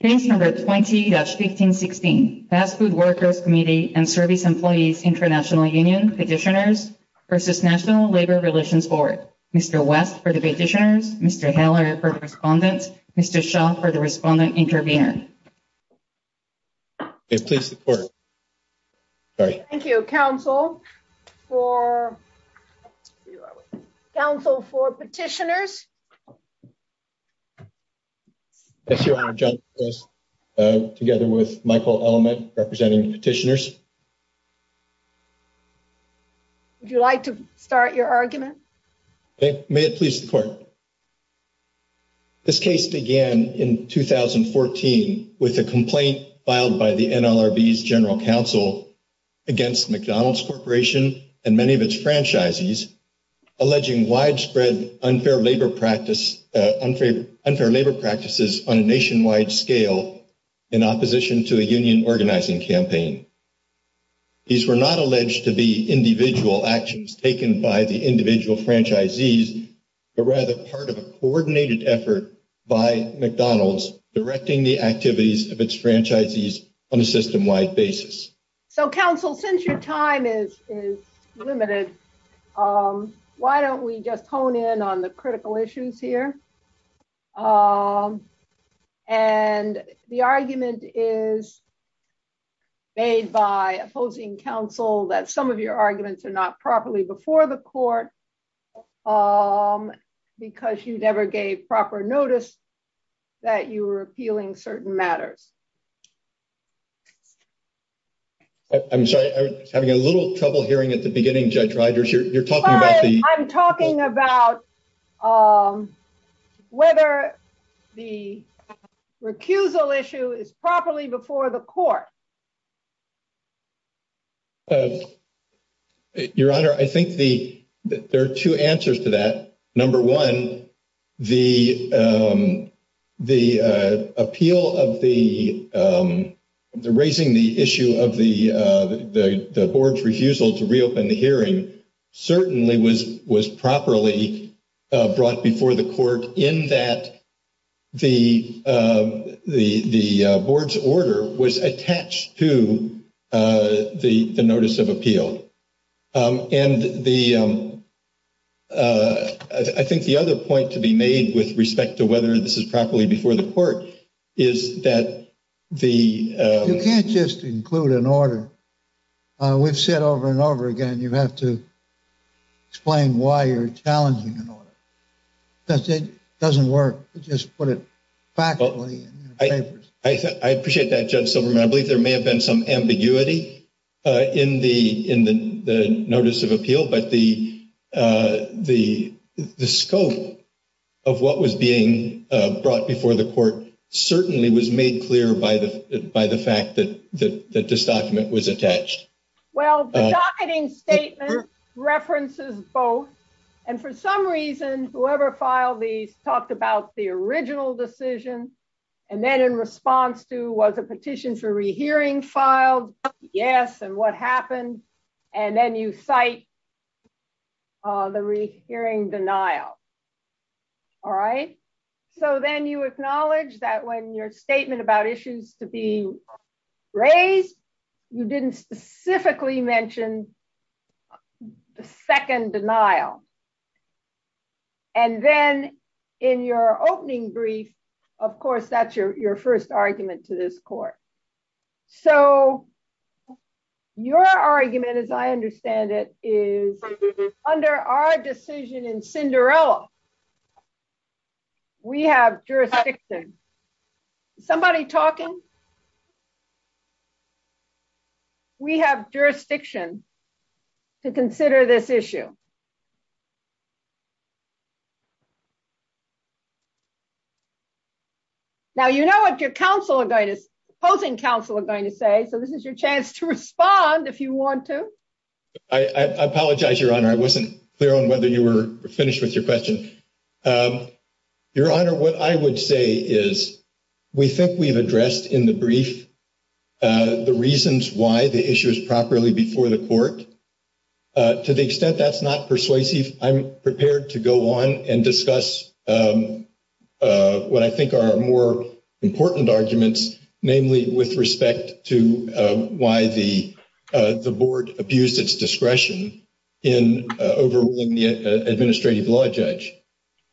Page number 20-1516. Fast Food Workers Committee and Service Employees International Union Petitioners v. National Labor Relations Board. Mr. West for the petitioners, Mr. Haller for the respondents, Mr. Shaw for the respondent intervener. Please support it. Thank you. Council for. Council for petitioners. Together with Michael element, representing petitioners. Would you like to start your argument? May it please the court. This case began in 2014 with a complaint filed by the NLRB general counsel. Against McDonald's Corporation and many of its franchisees. Alleging widespread unfair labor practice, unfair labor practices on a nationwide scale. In opposition to a union organizing campaign, these were not alleged to be individual actions taken by the individual franchisees, but rather part of a coordinated effort by McDonald's directing the activities of its franchisees on a system wide basis. So, council, since your time is limited, why don't we get hone in on the critical issues here? And the argument is. Made by opposing counsel that some of your arguments are not properly before the court. Because you never gave proper notice. That you were appealing certain matters. I'm sorry, I'm having a little trouble hearing at the beginning. You're talking about. Whether the recusal issue is properly before the court. Your honor, I think the, there are 2 answers to that. Number 1, the, the appeal of the, the raising the issue of the, the, the board's refusal to reopen the hearing certainly was was properly brought before the court in that. The, the, the board's order was attached to the notice of appeal. And the, I think the other point to be made with respect to whether this is properly before the court. Is that the, you can't just include an order. We've said over and over again, you have to explain why you're challenging. That's it doesn't work. Just put it. I appreciate that. I believe there may have been some ambiguity. In the, in the notice of appeal, but the, the, the scope. Of what was being brought before the court certainly was made clear by the, by the fact that the, that this document was attached. Well, references both, and for some reason, whoever filed the talked about the original decision. And then in response to was a petition to re, hearing filed. Yes. And what happened? And then you cite the re, hearing denial. All right, so then you acknowledge that when your statement about issues to be. Raise you didn't specifically mentioned. 2nd, denial and then. In your opening brief, of course, that's your, your 1st argument to this court. So, your argument as I understand it is under our decision in Cinderella. We have jurisdiction somebody talking. We have jurisdiction. To consider this issue. Now, you know, if your counsel are going to. Counsel are going to say, so this is your chance to respond if you want to. I apologize your honor. I wasn't clear on whether you were finished with your question. Your honor, what I would say is. We think we've addressed in the brief the reasons why the issue is properly before the court. To the extent that's not persuasive, I'm prepared to go on and discuss. What I think are more important arguments, namely, with respect to why the, the board abused its discretion. In the administrative law judge.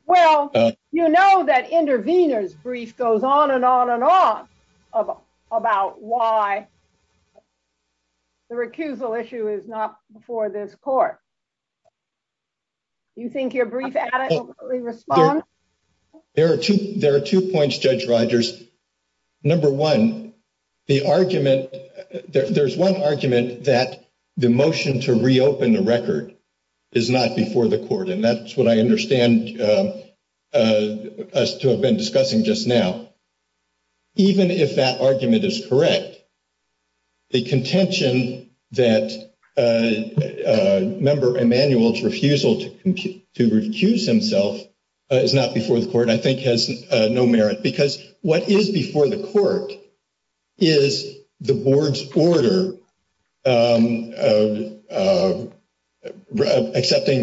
Well, you know, that interveners brief goes on and on and on. About why the recusal issue is not before this court. You think your response. There are 2, there are 2 points judge Rogers. Number 1, the argument that there's 1 argument that. The motion to reopen the record is not before the court and that's what I understand. As to have been discussing just now, even if that argument is correct. The contention that a member manuals refusal to to recuse himself. It's not before the court, I think has no merit because what is before the court. Is the board's quarter. Accepting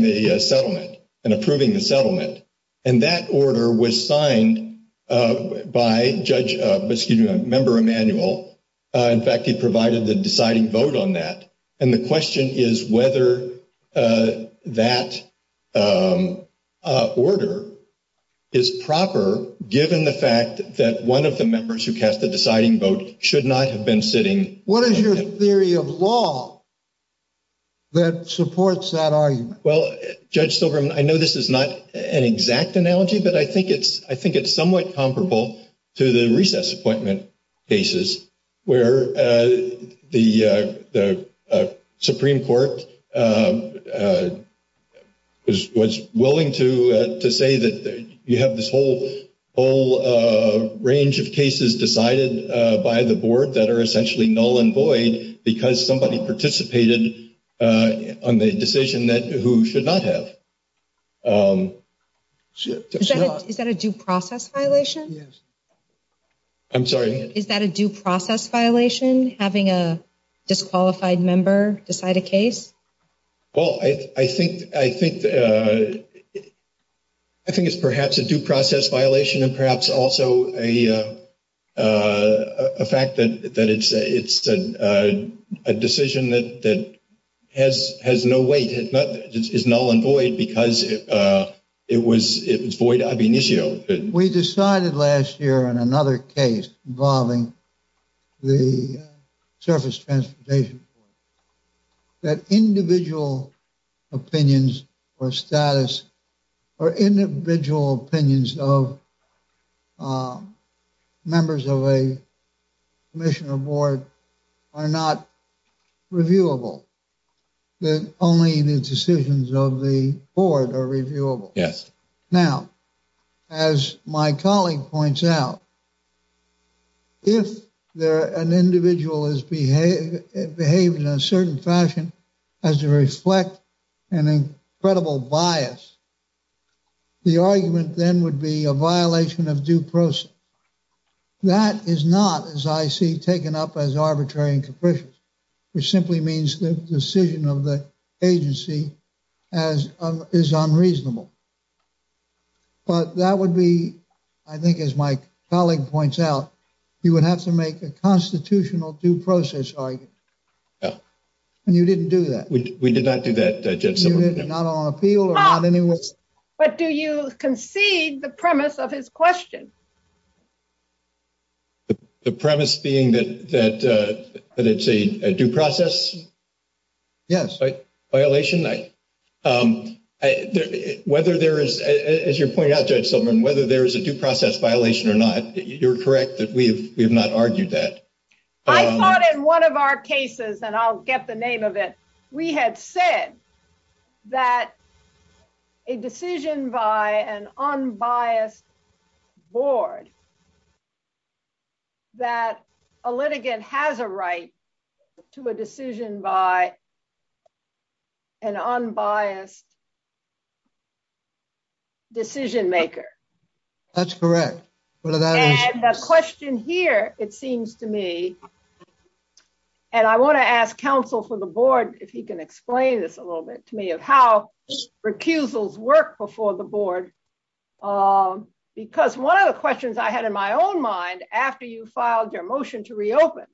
the settlement and approving the settlement. And that order was signed by judge, excuse me, a member manual. In fact, he provided the deciding vote on that and the question is whether that. Order is proper, given the fact that 1 of the members who cast the deciding vote should not have been sitting. What is your theory of law? That supports that argument well, judge, I know this is not an exact analogy, but I think it's, I think it's somewhat comparable to the recess appointment. Basis where the, the Supreme Court. I was willing to say that you have this whole whole range of cases decided by the board that are essentially null and void because somebody participated on the decision that who should not have. Is that a due process violation? I'm sorry, is that a due process violation having a disqualified member decide a case? Well, I think I think. I think it's perhaps a due process violation and perhaps also a. A fact that it's a decision that. That has has no way is null and void because it was, it was void. I mean, we decided last year and another case involving the surface transportation. That individual opinions or status or individual opinions of. Members of a mission of board are not. Reviewable that only the decisions of the board are reviewable. Yes. Now, as my colleague points out. If there are an individual is behave behave in a certain fashion. As you reflect an incredible bias. The argument then would be a violation of due process. That is not as I see taken up as arbitrary and. Which simply means the decision of the agency. As is unreasonable, but that would be. I think, as my colleague points out, you would have to make a constitutional due process. You didn't do that. We did not do that. Not on a field. But do you concede the premise of his question? The premise being that that it's a due process. Yes, but violation, whether there is, as you're pointing out to someone, whether there is a due process violation or not, you're correct that we have not argued that. I thought in one of our cases that I'll get the name of it. We had said that a decision by an unbiased board. That a litigant has a right to a decision by. An unbiased decision maker. That's correct. A question here. It seems to me. And I want to ask counsel for the board. If you can explain this a little bit to me of how recusals work before the board. Because 1 of the questions I had in my own mind after you filed their motion to reopen.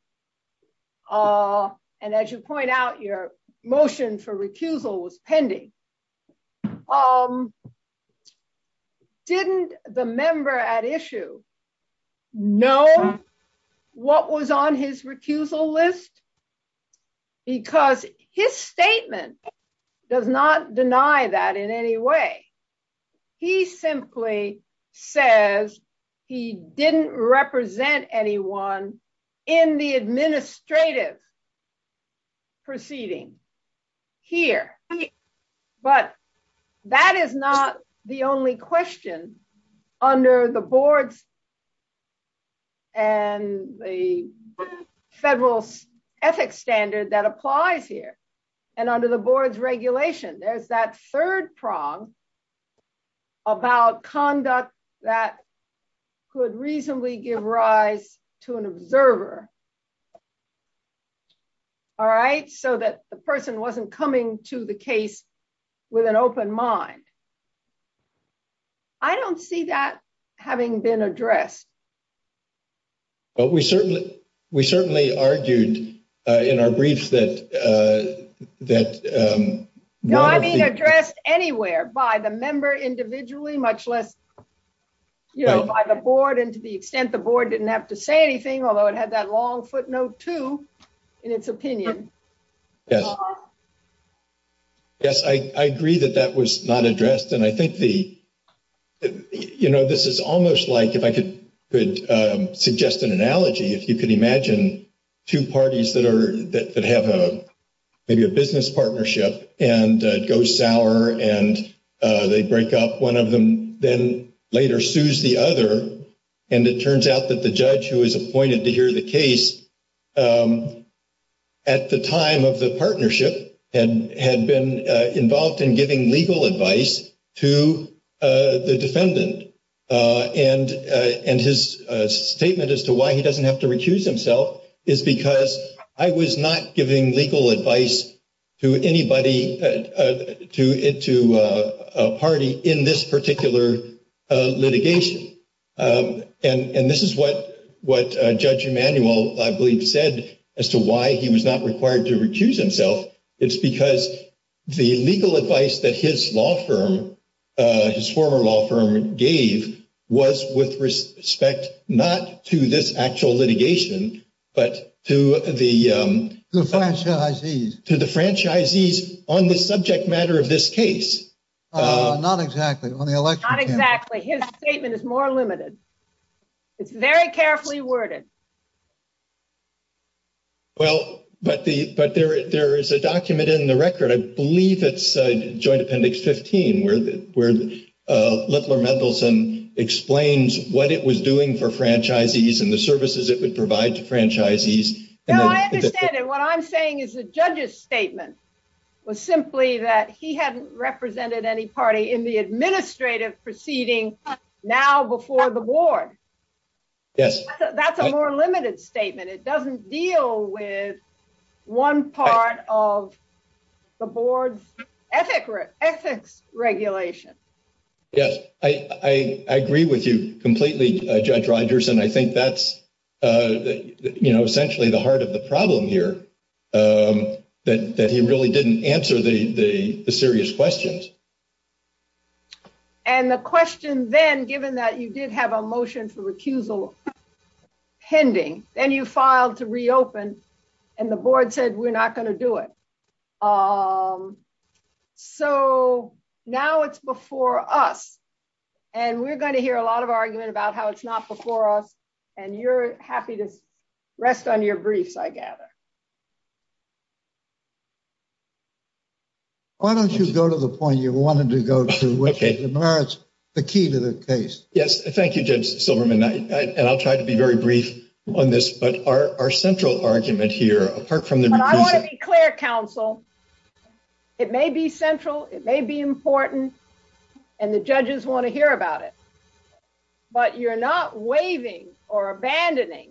And as you point out your motion for recusal was pending. Didn't the member at issue. No, what was on his recusal list. Because his statement. Does not deny that in any way. He simply says. He didn't represent anyone. In the administrative proceeding. Here, but that is not the only question under the board. And the federal ethics standard that applies here. And under the board's regulation, there's that 3rd prong. About conduct that. Could reasonably give rise to an observer. All right, so that the person wasn't coming to the case. With an open mind, I don't see that having been addressed. But we certainly, we certainly argued in our brief that that address anywhere by the member individually, much less. You know, by the board and to the extent the board didn't have to say anything, although it had that long footnote to. In its opinion, yes, I agree that that was not addressed and I think the. You know, this is almost like, if I could suggest an analogy, if you could imagine. 2 parties that are that have a business partnership and go sour and they break up 1 of them. Then later sues the other and it turns out that the judge who was appointed to hear the case. At the time of the partnership and had been involved in giving legal advice to the defendant. And his statement as to why he doesn't have to recuse himself is because I was not giving legal advice. To anybody to it to a party in this particular litigation, and this is what what judge Emanuel said as to why he was not required to recuse himself. It's because the legal advice that his law firm, his former law firm gave was with respect not to this actual litigation. But to the to the franchisees on the subject matter of this case, not exactly on the election. Exactly. His statement is more limited. It's very carefully worded well, but the, but there, there is a document in the record. I believe it's a joint appendix 15 where we're looking for Mendelsohn explains what it was doing for franchisees and the services it would provide to franchisees and what I'm saying is the judge's statement. Was simply that he hadn't represented any party in the administrative proceeding now before the board. Yes, that's a more limited statement. It doesn't deal with 1 part of the board ethics regulation. Yes, I, I, I agree with you completely judge Rogers and I think that's essentially the heart of the problem here that he really didn't answer the serious questions. And the question then, given that you did have a motion for recusal pending and you filed to reopen and the board said, we're not going to do it so now it's before us and we're going to hear a lot of argument about how it's not before us and you're happy to rest on your briefs. I gather. Why don't you go to the point you wanted to go to the key to the case? Yes, thank you. Jim Silverman. I'll try to be very brief on this, but our central argument here from the clear counsel. It may be central. It may be important and the judges want to hear about it, but you're not waving or abandoning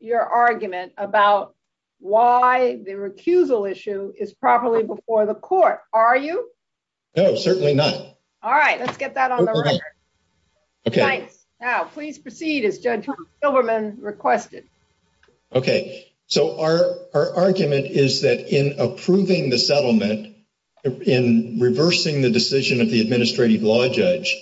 your argument about why the board is not responding. The recusal issue is properly before the court. Are you? No, certainly not. All right, let's get that on. Okay, now, please proceed as judge Silverman requested. Okay. So, our, our argument is that in approving the settlement in reversing the decision of the administrative law judge,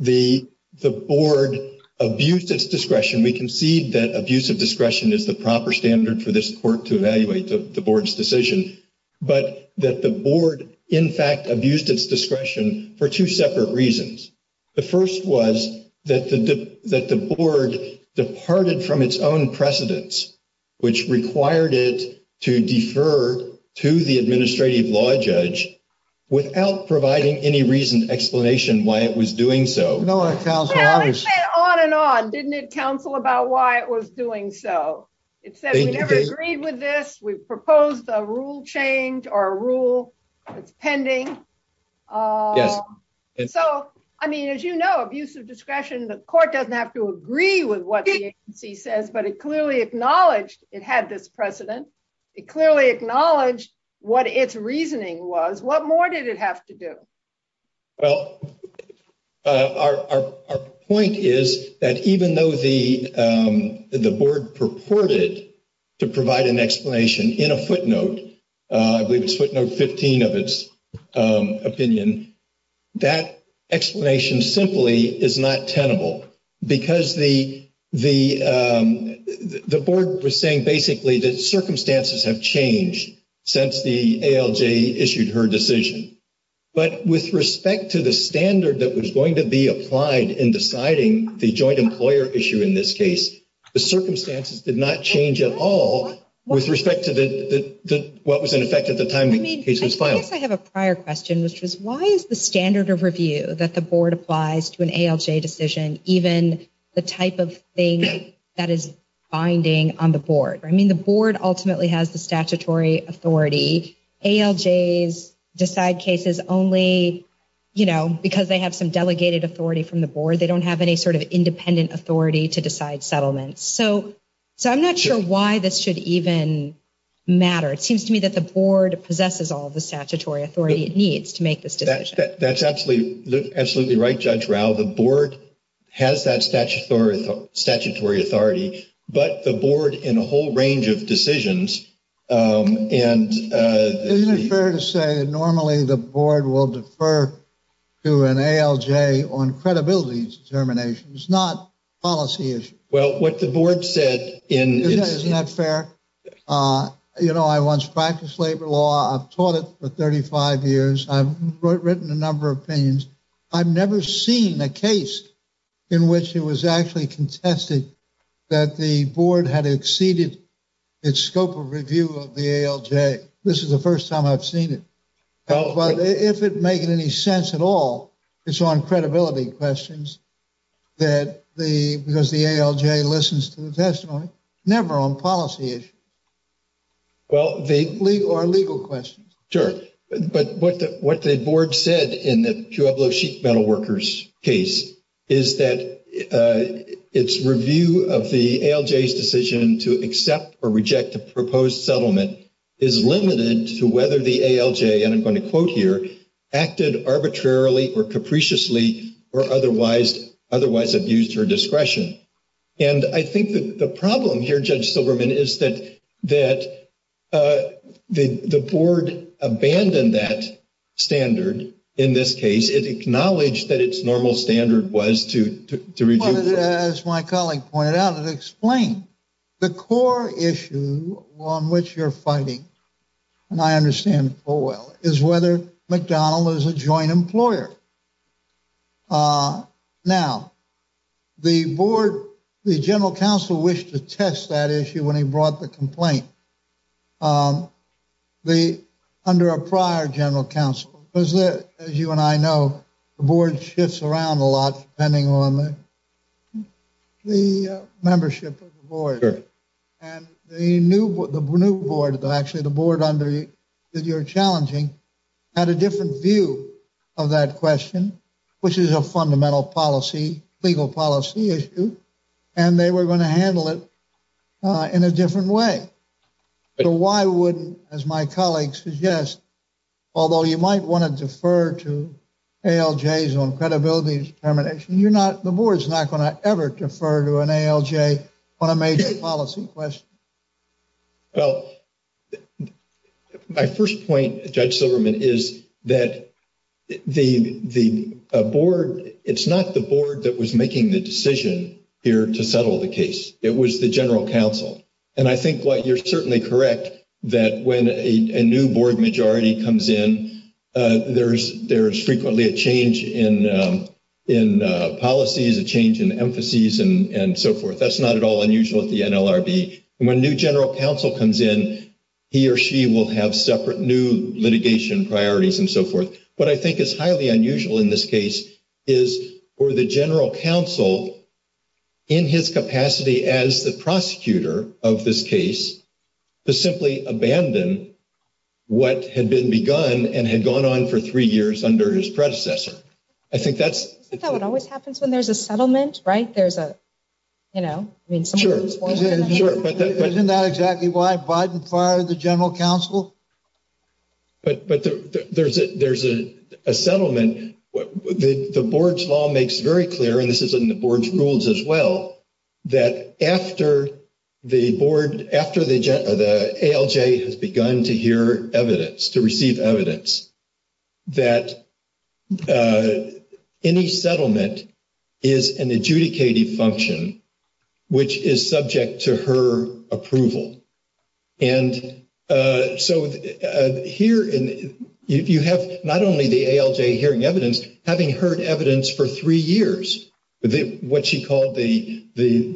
the, the board abuse discretion. And we can see that abuse of discretion is the proper standard for this court to evaluate the board's decision, but that the board, in fact, abused its discretion for 2 separate reasons. The 1st was that the, that the board departed from its own precedence, which required it to defer to the administrative law judge without providing any reason explanation why it was doing. So, on and on, didn't it counsel about why it was doing? So it said, agreed with this. We've proposed a rule change or a rule pending. And so, I mean, as, you know, abuse of discretion, the court doesn't have to agree with what he says, but it clearly acknowledged it had this precedent. It clearly acknowledged what its reasoning was. What more did it have to do? Well, our point is that even though the, the board purported to provide an explanation in a footnote, 15 of its opinion, that explanation simply is not tenable because the, the, the board was saying basically that circumstances have changed since the ALJ issued her decision. But with respect to the standard that was going to be applied in deciding the joint employer issue in this case, the circumstances did not change at all with respect to what was in effect at the time the case was filed. I have a prior question, which is why is the standard of review that the board applies to an ALJ decision even the type of thing that is binding on the board? I mean, the board ultimately has the statutory authority. ALJs decide cases only, you know, because they have some delegated authority from the board. They don't have any sort of independent authority to decide settlements. So, so I'm not sure why this should even matter. It seems to me that the board possesses all the statutory authority it needs to make this decision. That's absolutely, absolutely right. Judge Rao, the board has that statutory authority, but the board in a whole range of decisions, and it's fair to say that normally the board will defer to an ALJ on credibility determinations, not policy issues. Well, what the board said in... Isn't that fair? You know, I once practiced labor law. I've taught it for 35 years. I've written a number of opinions. I've never seen a case in which it was actually contested that the board had exceeded its scope of review of the ALJ. This is the first time I've seen it. Well, if it makes any sense at all, it's on credibility questions that the, because the ALJ listens to the testimony, never on policy issues or legal questions. Sure. But what the board said in the Pueblo Sheep Metal Workers case is that its review of the ALJ's decision to accept or reject the proposed settlement is limited to whether the ALJ, and I'm going to quote here, acted arbitrarily or capriciously or otherwise abused her discretion. And I think the problem here, Judge Silverman, is that the board abandoned that standard in this case. It acknowledged that its normal standard was to review... The board, the general counsel wished to test that issue when he brought the complaint. Under a prior general counsel, as you and I know, the board shifts around a lot depending on the membership of the board. Sure. And the new board, actually the board under you that you're challenging, had a different view of that question, which is a fundamental policy, legal policy issue, and they were going to handle it in a different way. So why would, as my colleague suggests, although you might want to defer to ALJs on credibility determination, you're not, the board's not going to ever defer to an ALJ on a major policy question. Well, my first point, Judge Silverman, is that the board, it's not the board that was making the decision here to settle the case. It was the general counsel. And I think what you're certainly correct that when a new board majority comes in, there's frequently a change in policies, a change in emphases, and so forth. That's not at all unusual at the NLRB. When a new general counsel comes in, he or she will have separate new litigation priorities and so forth. What I think is highly unusual in this case is for the general counsel, in his capacity as the prosecutor of this case, to simply abandon what had been begun and had gone on for three years under his predecessor. Isn't that what always happens when there's a settlement, right? There's a, you know? Sure. Isn't that exactly why Biden fired the general counsel? But there's a settlement. The board's law makes very clear, and this is in the board's rules as well, that after the board, after the ALJ has begun to hear evidence, to receive evidence, that any settlement is an adjudicating function, which is subject to her approval. And so here you have not only the ALJ hearing evidence, having heard evidence for three years, what she called the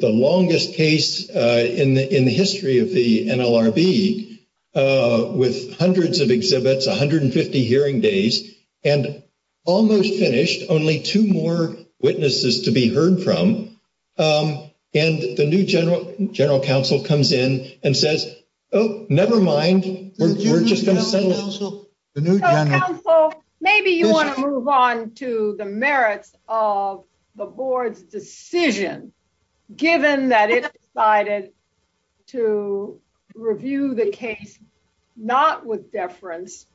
longest case in the history of the NLRB, with hundreds of exhibits, 150 hearing days, and almost finished, only two more witnesses to be heard from. And the new general counsel comes in and says, oh, never mind, we're just going to settle it. Maybe you want to move on to the merits of the board's decision, given that it decided to review the case, not with deference,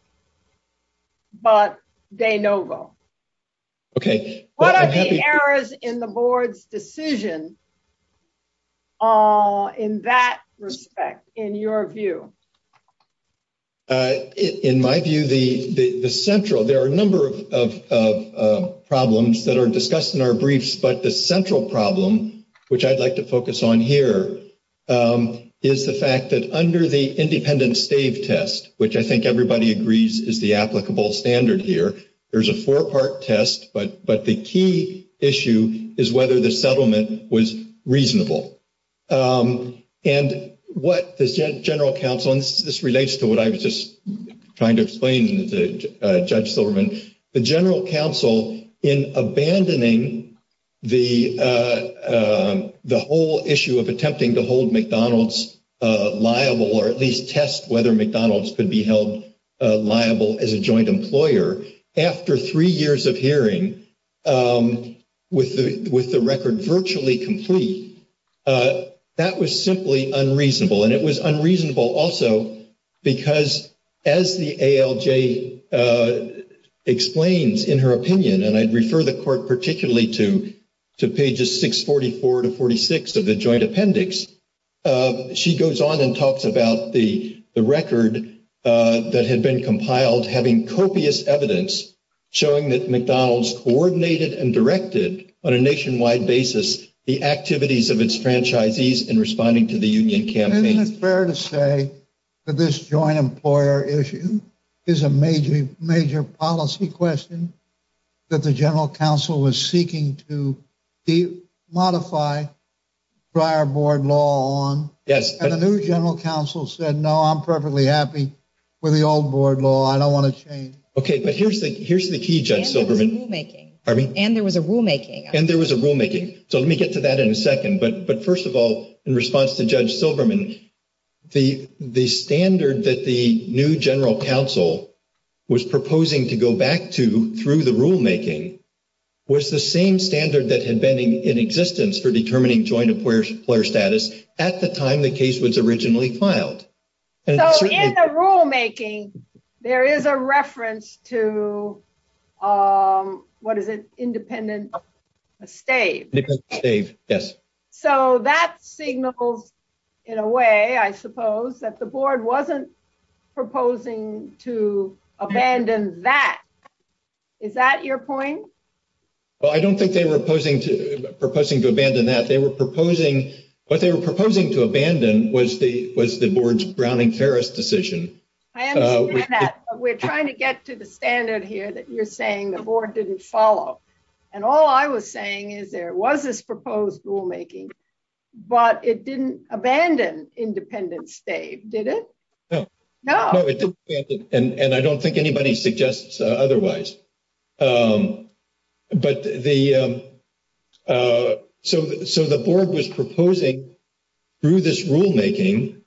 but de novo. Okay. What are the errors in the board's decision in that respect, in your view? In my view, the central, there are a number of problems that are discussed in our briefs, but the central problem, which I'd like to focus on here, is the fact that under the independent save test, which I think everybody agrees is the applicable standard here, there's a four-part test, but the key issue is whether the settlement was reasonable. And what the general counsel, and this relates to what I was just trying to explain to Judge Silverman, the general counsel, in abandoning the whole issue of attempting to hold McDonald's liable, or at least test whether McDonald's could be held liable as a joint employer, after three years of hearing, with the record virtually complete, that was simply unreasonable. And it was unreasonable also because, as the ALJ explains in her opinion, and I'd refer the court particularly to pages 644 to 46 of the joint appendix, she goes on and talks about the record that had been compiled having copious evidence showing that McDonald's coordinated and directed, on a nationwide basis, the activities of its franchisees in responding to the union campaign. Isn't it fair to say that this joint employer issue is a major policy question that the general counsel was seeking to modify prior board law on? Yes. And the new general counsel said, no, I'm perfectly happy with the old board law. I don't want to change it. Okay, but here's the key, Judge Silverman. And there was a rulemaking. Pardon me? And there was a rulemaking. And there was a rulemaking. So let me get to that in a second. But first of all, in response to Judge Silverman, the standard that the new general counsel was proposing to go back to through the rulemaking was the same standard that had been in existence for determining joint employer status at the time the case was originally filed. So in the rulemaking, there is a reference to, what is it, independent estate. Independent estate, yes. So that signaled, in a way, I suppose, that the board wasn't proposing to abandon that. Is that your point? Well, I don't think they were proposing to abandon that. What they were proposing to abandon was the board's Browning-Ferris decision. We're trying to get to the standard here that you're saying the board didn't follow. And all I was saying is there was this proposed rulemaking, but it didn't abandon independent estate, did it? No. No. I don't think anybody suggests otherwise. So the board was proposing, through this rulemaking,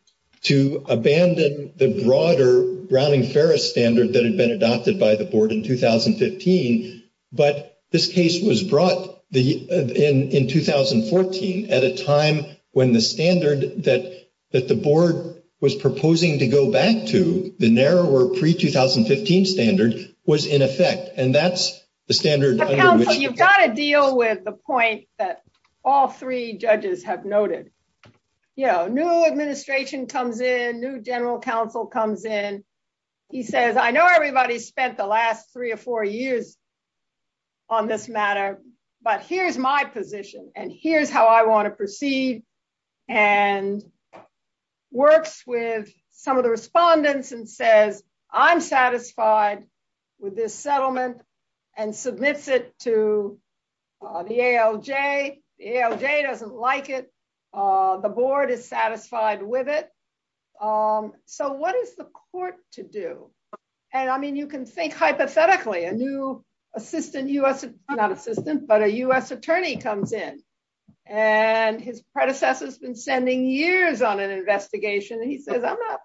to abandon the broader Browning-Ferris standard that had been adopted by the board in 2015. But this case was brought in 2014 at a time when the standard that the board was proposing to go back to, the narrower pre-2015 standard, was in effect. And that's the standard under which— —on this matter. But here's my position, and here's how I want to proceed, and works with some of the respondents and says, I'm satisfied with this settlement, and submits it to the ALJ. The ALJ doesn't like it. The board is satisfied with it. So what is the court to do? And, I mean, you can think hypothetically, a new assistant, not assistant, but a U.S. attorney comes in, and his predecessor's been spending years on an investigation, and he says, I'm not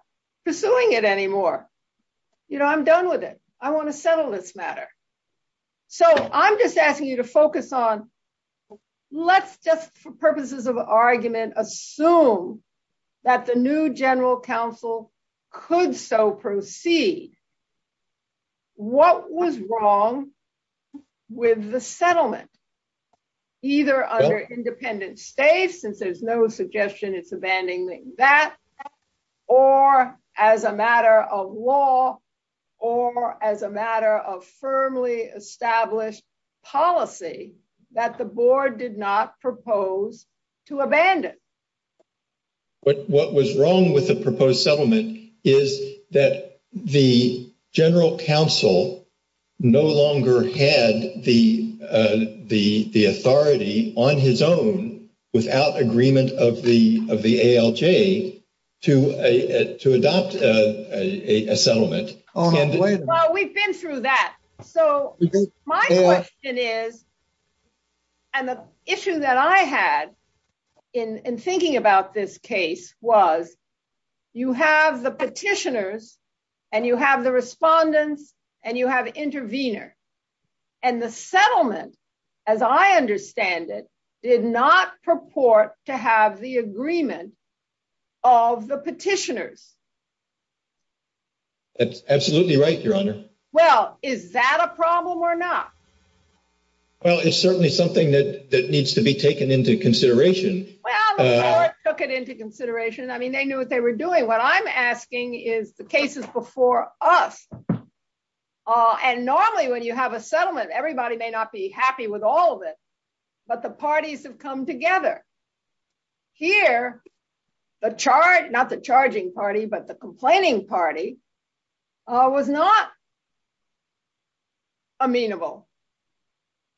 pursuing it anymore. You know, I'm done with it. I want to settle this matter. So I'm just asking you to focus on—let's just, for purposes of argument, assume that the new general counsel could so proceed. What was wrong with the settlement, either under independent state, since there's no suggestion it's abandoning that, or as a matter of law, or as a matter of firmly established policy, that the board did not propose to abandon? What was wrong with the proposed settlement is that the general counsel no longer had the authority on his own, without agreement of the ALJ, to adopt a settlement. Well, we've been through that. So my question is, and the issue that I had in thinking about this case was, you have the petitioners, and you have the respondents, and you have interveners. And the settlement, as I understand it, did not purport to have the agreement of the petitioners. That's absolutely right, Your Honor. Well, is that a problem or not? Well, it's certainly something that needs to be taken into consideration. Well, the board took it into consideration. I mean, they knew what they were doing. What I'm asking is the cases before us. And normally, when you have a settlement, everybody may not be happy with all of it, but the parties have come together. Here, the charge, not the charging party, but the complaining party, was not amenable.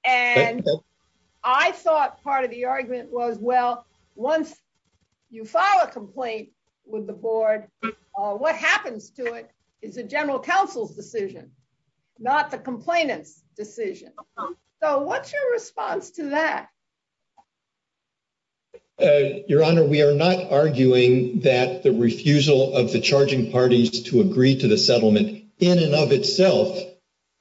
And I thought part of the argument was, well, once you file a complaint with the board, what happens to it is the general counsel's decision, not the complainant's decision. So what's your response to that? Your Honor, we are not arguing that the refusal of the charging parties to agree to the settlement in and of itself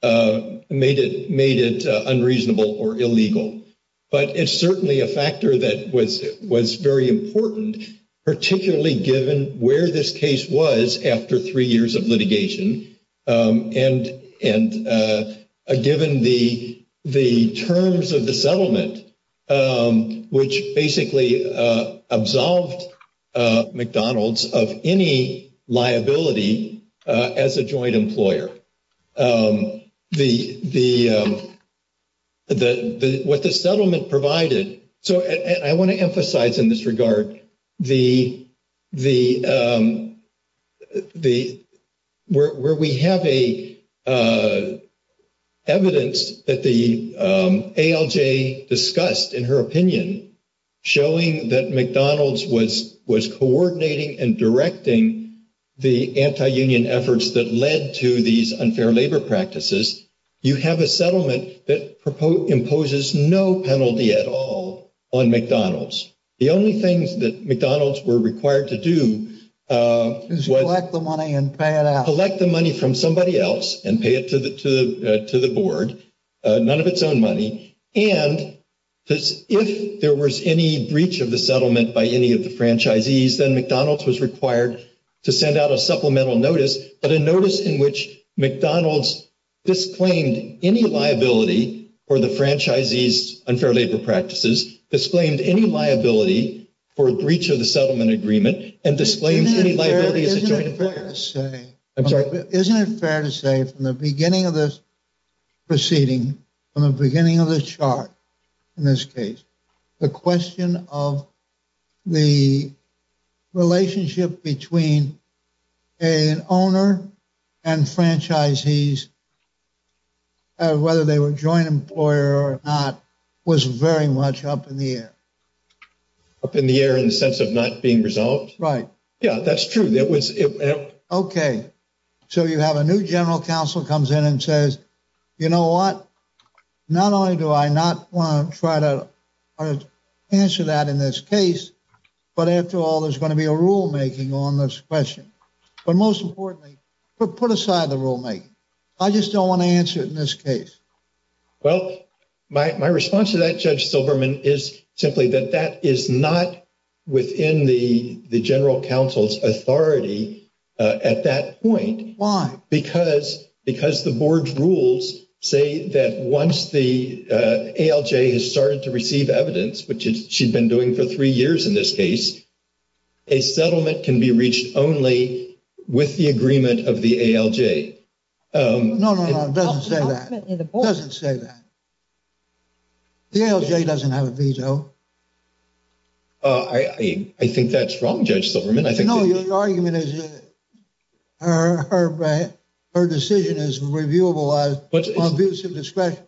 made it unreasonable or illegal. But it's certainly a factor that was very important, particularly given where this case was after three years of litigation, and given the terms of the settlement, which basically absolved McDonald's of any liability as a joint employer. What the settlement provided—so I want to emphasize in this regard where we have evidence that the ALJ discussed, in her opinion, showing that McDonald's was coordinating and directing the anti-union efforts that led to these unfair labor practices, you have a settlement that imposes no penalty at all on McDonald's. The only thing that McDonald's were required to do was— Collect the money and pay it out. Collect the money from somebody else and pay it to the board, none of its own money. And if there was any breach of the settlement by any of the franchisees, then McDonald's was required to send out a supplemental notice, but a notice in which McDonald's disclaimed any liability for the franchisees' unfair labor practices, disclaimed any liability for a breach of the settlement agreement, and disclaimed any liability as a joint employer. Isn't it fair to say from the beginning of this proceeding, from the beginning of this chart in this case, the question of the relationship between an owner and franchisees, whether they were joint employer or not, was very much up in the air? Up in the air in the sense of not being resolved? Right. Yeah, that's true. Okay, so you have a new general counsel comes in and says, you know what? Not only do I not want to try to answer that in this case, but after all, there's going to be a rulemaking on this question. But most importantly, put aside the rulemaking. I just don't want to answer it in this case. Well, my response to that, Judge Silverman, is simply that that is not within the general counsel's authority at that point. Why? Because the board's rules say that once the ALJ has started to receive evidence, which she'd been doing for three years in this case, a settlement can be reached only with the agreement of the ALJ. No, no, no, it doesn't say that. It doesn't say that. The ALJ doesn't have a veto. I think that's wrong, Judge Silverman. No, your argument is that her decision is reviewable on abuse of discretion.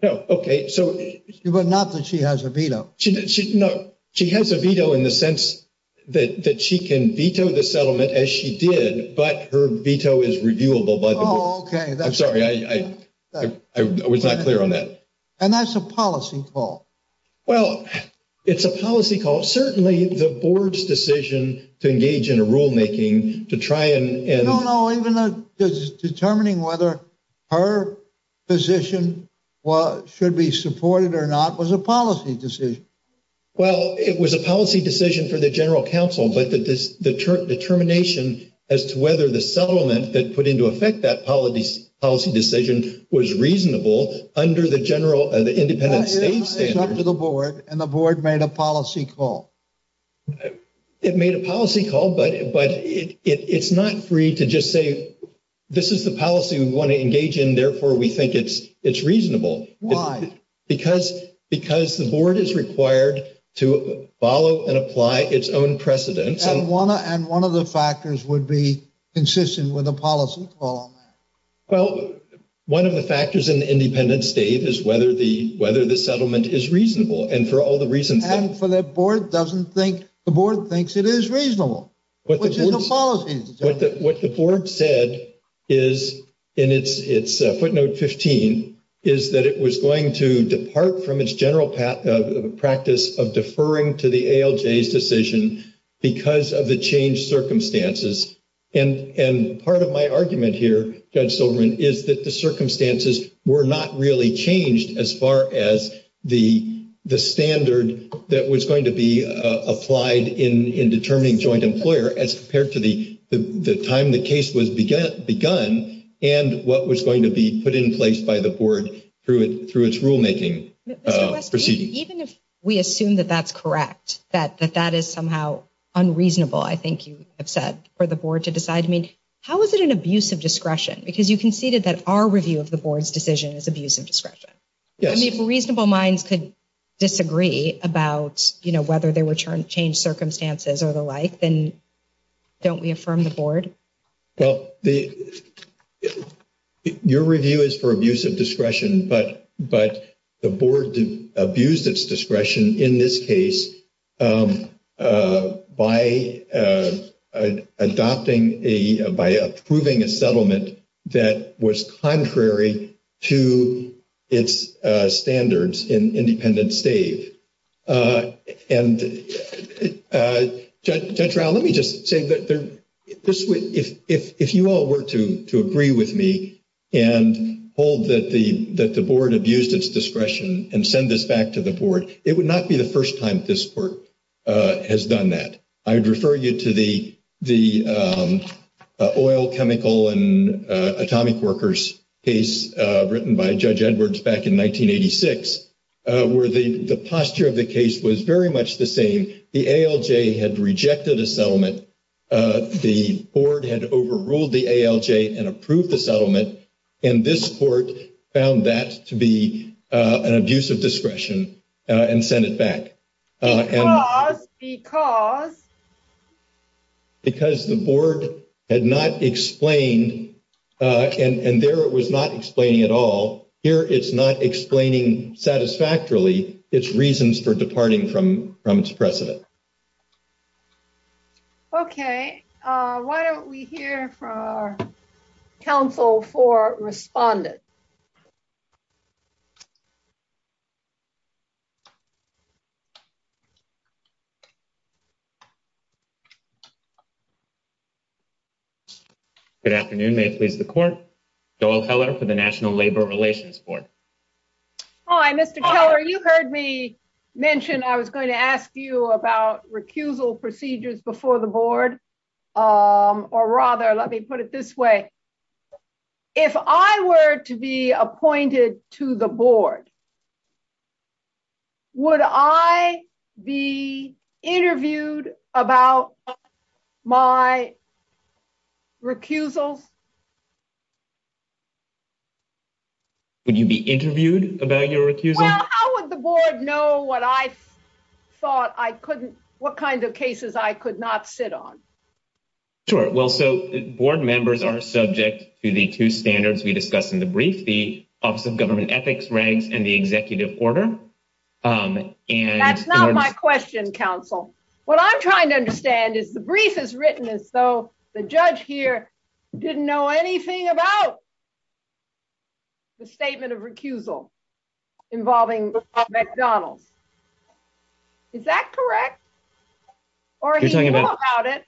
But not that she has a veto. She has a veto in the sense that she can veto the settlement as she did, but her veto is reviewable by the board. Oh, okay. I'm sorry. I was not clear on that. And that's a policy call. Well, it's a policy call. Certainly, the board's decision to engage in a rulemaking to try and— No, no, no, even determining whether her position should be supported or not was a policy decision. Well, it was a policy decision for the general counsel, but the determination as to whether the settlement that put into effect that policy decision was reasonable under the independent state standards— But it was up to the board, and the board made a policy call. It made a policy call, but it's not free to just say, this is the policy we want to engage in, therefore we think it's reasonable. Why? Because the board is required to follow and apply its own precedents. And one of the factors would be consistent with a policy call. Well, one of the factors in the independent state is whether the settlement is reasonable, and for all the reasons— And for that, the board thinks it is reasonable, which is a policy decision. What the board said in its footnote 15 is that it was going to depart from its general practice of deferring to the ALJ's decision because of the changed circumstances. And part of my argument here, Judge Silverman, is that the circumstances were not really changed as far as the standard that was going to be applied in determining joint employer as compared to the time the case was begun and what was going to be put in place by the board through its rulemaking proceedings. And even if we assume that that's correct, that that is somehow unreasonable, I think you have said, for the board to decide to make, how is it an abuse of discretion? Because you conceded that our review of the board's decision is abuse of discretion. I mean, if reasonable minds could disagree about, you know, whether there were changed circumstances or the like, then don't we affirm the board? Well, your review is for abuse of discretion, but the board abused its discretion in this case by approving a settlement that was contrary to its standards in independent state. And Judge Rao, let me just say that if you all were to agree with me and hold that the board abused its discretion and send this back to the board, it would not be the first time this court has done that. I would refer you to the oil, chemical, and atomic workers case written by Judge Edwards back in 1986, where the posture of the case was very much the same. The ALJ had rejected a settlement, the board had overruled the ALJ and approved the settlement, and this court found that to be an abuse of discretion and sent it back. Because? Because the board had not explained, and there it was not explaining at all, here it's not explaining satisfactorily its reasons for departing from its precedent. Okay. Why don't we hear from our counsel for respondents? Good afternoon. May it please the court? Joel Heller for the National Labor Relations Board. Hi, Mr. Keller, you heard me mention I was going to ask you about recusal procedures before the board, or rather, let me put it this way. If I were to be appointed to the board, would I be interviewed about my recusal? Would you be interviewed about your recusal? Well, how would the board know what I thought I couldn't, what kinds of cases I could not sit on? Sure. Well, so board members are subject to the two standards we discussed in the brief, the Office of Government Ethics Regs and the Executive Order. That's not my question, counsel. What I'm trying to understand is the brief is written as though the judge here didn't know anything about the statement of recusal involving McDonald's. Is that correct? Or he didn't know about it,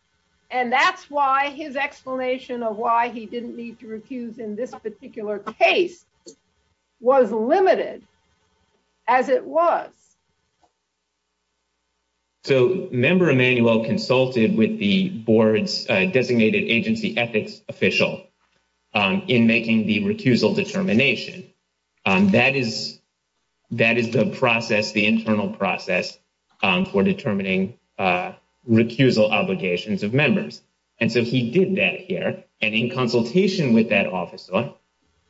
and that's why his explanation of why he didn't need to recuse in this particular case was limited as it was. So Member Emanuel consulted with the board's designated agency ethics official in making the recusal determination. That is the process, the internal process for determining recusal obligations of members. And so he did that here, and in consultation with that officer,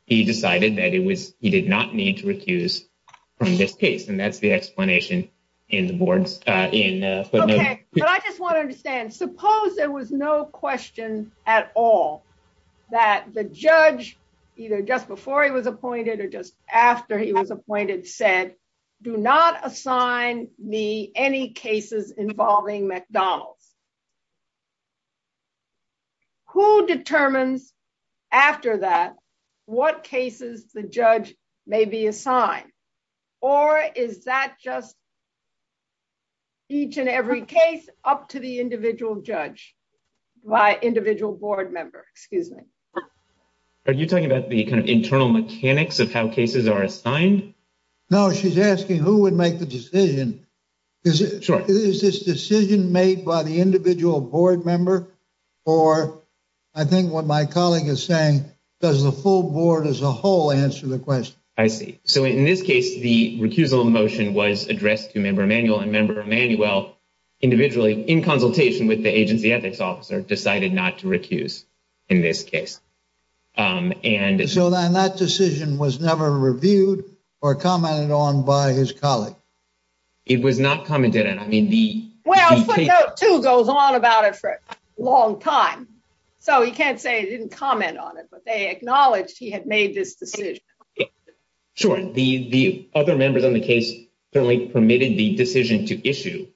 he decided that he did not need to recuse from this case, and that's the explanation in the board's submission. Okay. But I just want to understand, suppose there was no question at all that the judge, either just before he was appointed or just after he was appointed, said, do not assign me any cases involving McDonald's. Who determines after that what cases the judge may be assigned? Or is that just each and every case up to the individual judge, individual board member? Excuse me. Are you talking about the internal mechanics of how cases are assigned? No, she's asking who would make the decision. Is this decision made by the individual board member? Or I think what my colleague is saying, does the full board as a whole answer the question? I see. So in this case, the recusal motion was addressed to Member Emanuel, and Member Emanuel, individually, in consultation with the agency ethics officer, decided not to recuse in this case. So then that decision was never reviewed or commented on by his colleagues? It was not commented on. I mean, the... Well, he goes on about it for a long time. So he can't say he didn't comment on it, but they acknowledged he had made this decision. Sure. The other members on the case permitted the decision to issue.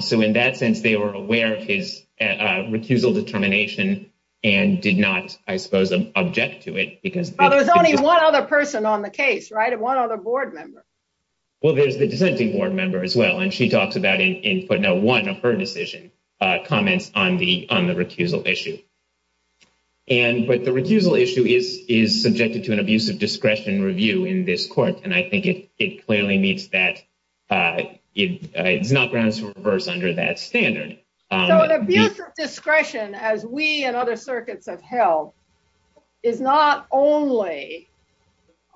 So in that sense, they were aware of his recusal determination and did not, I suppose, object to it because... There was only one other person on the case, right? And one other board member. Well, there's the defending board member as well, and she talks about it in putting out one of her decision comments on the recusal issue. But the recusal issue is subjected to an abuse of discretion review in this court, and I think it clearly meets that. It's not going to reverse under that standard. So an abuse of discretion, as we and other circuits have held, is not only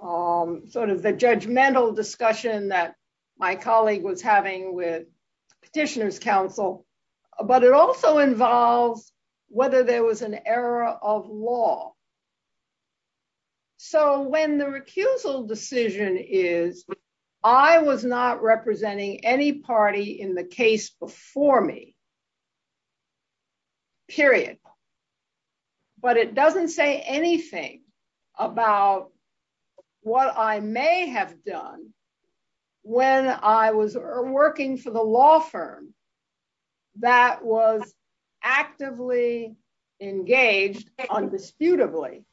sort of the judgmental discussion that my colleague was having with Petitioner's Council, but it also involved whether there was an error of law. So when the recusal decision is, I was not representing any party in the case before me, period, but it doesn't say anything about what I may have done when I was working for the law firm that was actively engaged, indisputably,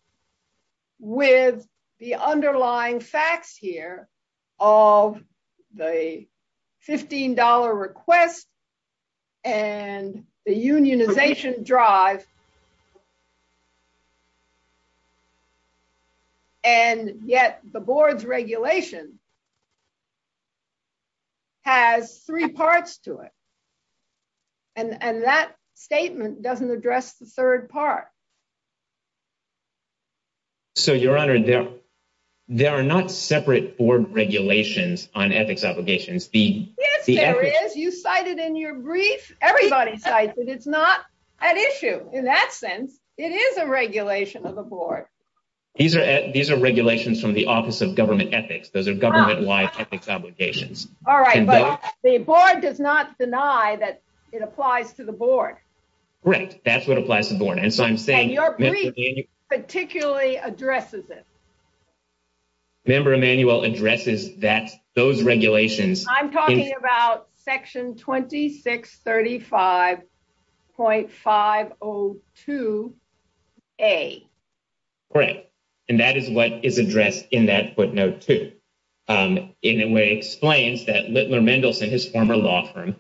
with the underlying facts here of the $15 request and the unionization drive, and yet the board's regulation has three parts to it. And that statement doesn't address the third part. So, Your Honor, there are not separate board regulations on ethics obligations. Yes, there is. You cite it in your brief. Everybody cites it. It's not an issue. In that sense, it is a regulation of the board. These are regulations from the Office of Government Ethics. Those are government-wide ethics obligations. All right. But the board does not deny that it applies to the board. Right. That's what applies to the board. And so I'm saying- And your brief particularly addresses it. Member Emanuel addresses that, those regulations- I'm talking about Section 2635.502A. Right. And that is what is addressed in that footnote, too. In a way, it explains that Littler Mendelson, his former law firm,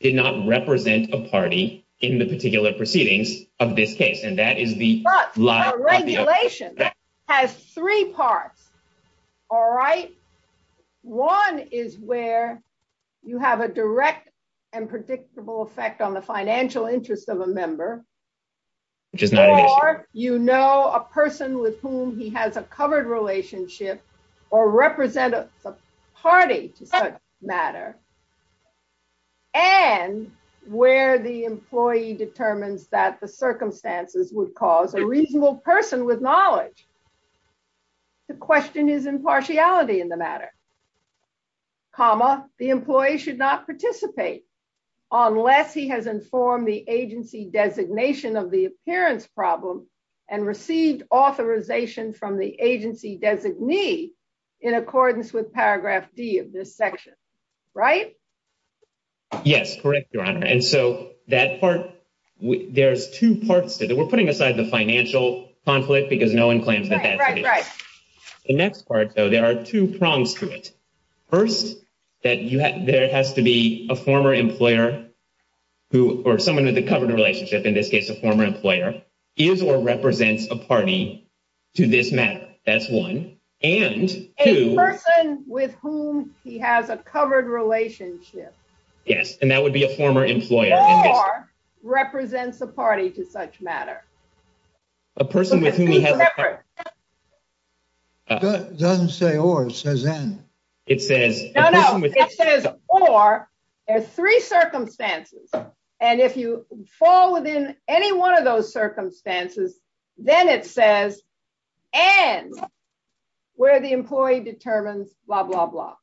did not represent a party in the particular proceedings of this case, and that is the- But the regulation has three parts. All right? One is where you have a direct and predictable effect on the financial interests of a member. Or you know a person with whom he has a covered relationship, or represent a party, for that matter. And where the employee determines that the circumstances would cause a reasonable person with knowledge to question his impartiality in the matter. Comma, the employee should not participate unless he has informed the agency designation of the appearance problem and received authorization from the agency designee in accordance with Paragraph D of this section. Right? Yes. Correct, Your Honor. And so that part- There's two parts to it. We're putting aside the financial conflict because no one claims that that's the case. The next part, though, there are two prongs to it. First, that there has to be a former employer, or someone with a covered relationship, in this case a former employer, is or represents a party to this matter. That's one. And two- A person with whom he has a covered relationship. Yes, and that would be a former employer. Or represents a party to such matter. A person with whom he has- It doesn't say or, it says and. It says- No, no, it says or, there's three circumstances. And if you fall within any one of those circumstances, then it says and, where the employee determines blah, blah, blah.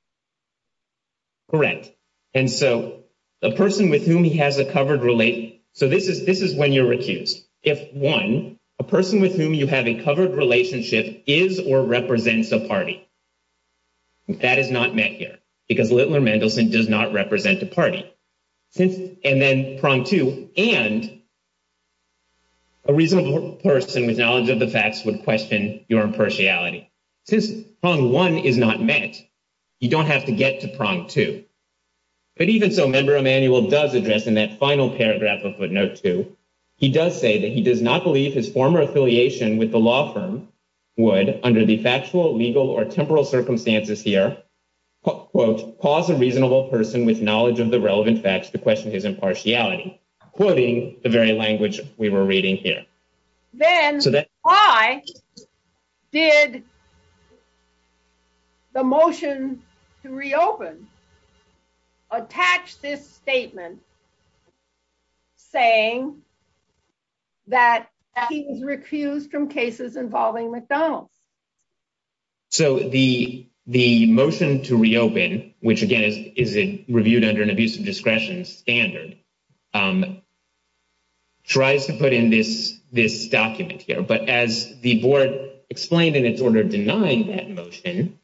Correct. And so, a person with whom he has a covered relationship- So, this is when you're accused. If, one, a person with whom you have a covered relationship is or represents a party. That is not met here, because Littler-Mendelsohn does not represent a party. And then, prong two, and a reasonable person with knowledge of the facts would question your impartiality. Since prong one is not met, you don't have to get to prong two. But even so, Member Emanuel does address in that final paragraph of footnote two, he does say that he does not believe his former affiliation with the law firm would, under de facto, legal, or temporal circumstances here, quote, cause a reasonable person with knowledge of the relevant facts to question his impartiality. Quoting the very language we were reading here. Then, why did the motion to reopen attach this statement saying that he was refused from cases involving McDonald's? So, the motion to reopen, which again is reviewed under an abuse of discretion standard, tries to put in this document here. But as the board explained in its order denying that motion,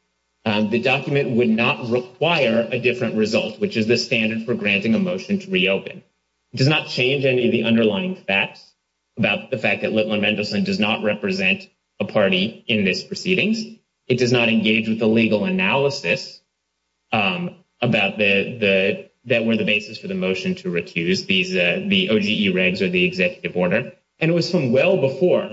the document would not require a different result, which is the standard for granting a motion to reopen. It does not change any of the underlying facts about the fact that Litlan Mendelson does not represent a party in this proceeding. It does not engage with the legal analysis that were the basis for the motion to recuse, the OGE regs or the executive order. And it was from well before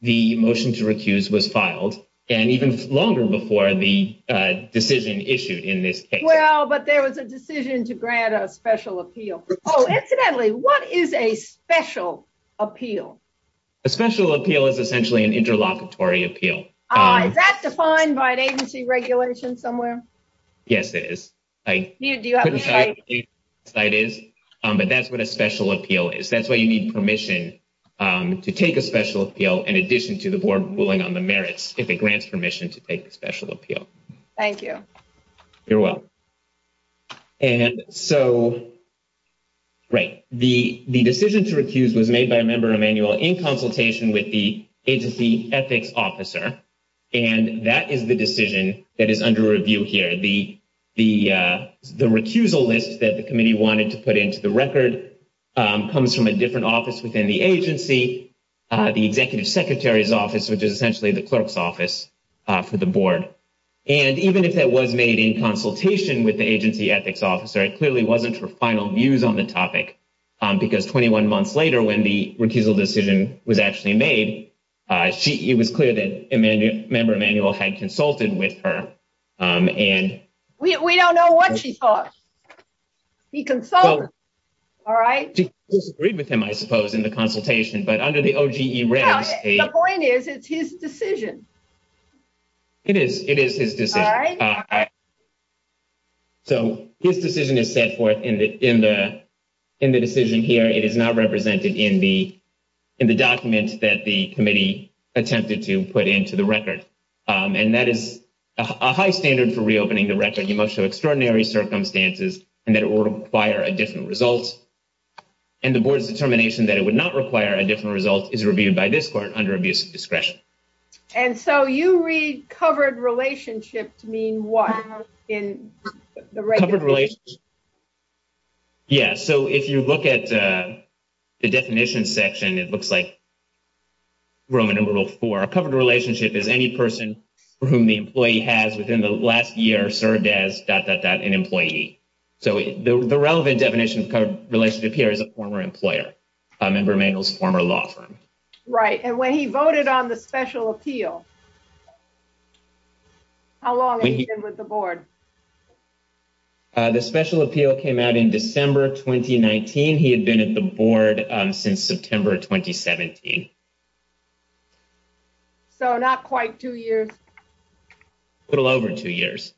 the motion to recuse was filed, and even longer before the decision issued in this case. Well, but there was a decision to grant a special appeal. Oh, incidentally, what is a special appeal? A special appeal is essentially an interlocutory appeal. Is that defined by an agency regulation somewhere? Yes, it is. But that's what a special appeal is. That's why you need permission to take a special appeal in addition to the board ruling on the merits if it grants permission to take a special appeal. Thank you. You're welcome. And so, right, the decision to recuse was made by a member of manual in consultation with the agency ethics officer. And that is the decision that is under review here. The recusal list that the committee wanted to put into the record comes from a different office within the agency, the executive secretary's office, which is essentially the clerk's office for the board. And even if it was made in consultation with the agency ethics officer, it clearly wasn't for final views on the topic. Because 21 months later, when the recusal decision was actually made, it was clear that a member of manual had consulted with her. We don't know what she talked. He consulted her. All right. She disagreed with him, I suppose, in the consultation. But under the OGE regulations. The point is, it's his decision. It is. It is his decision. All right. All right. So his decision is set forth in the decision here. It is not represented in the document that the committee attempted to put into the record. And that is a high standard for reopening the record. You must show extraordinary circumstances and that it will require a different result. And the board's determination that it would not require a different result is reviewed by this court under abuse of discretion. And so you read covered relationships mean what in the regulations? Yeah. So if you look at the definition section, it looks like rule number four. A covered relationship is any person whom the employee has within the last year served as an employee. So the relevant definition of a covered relationship here is a former employer. A member of manual is a former law firm. Right. And when he voted on the special appeal, how long has he been with the board? The special appeal came out in December 2019. He had been at the board since September 2017. So not quite two years. A little over two years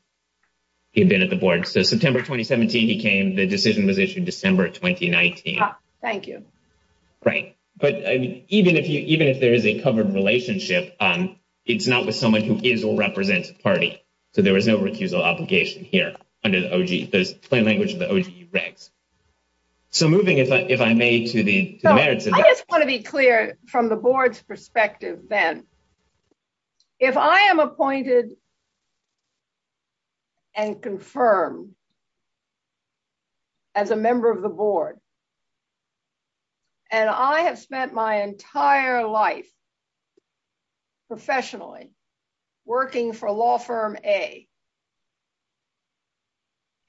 he had been at the board. So September 2017 he came. The decision was issued December 2019. Thank you. Right. But even if there is a covered relationship, it's not with someone who is or represents a party. So there is no refusal obligation here under the OG. There's plain language of the OG grant. So moving, if I may, to the merits of that. I just want to be clear from the board's perspective then. If I am appointed and confirmed as a member of the board, and I have spent my entire life professionally working for law firm A,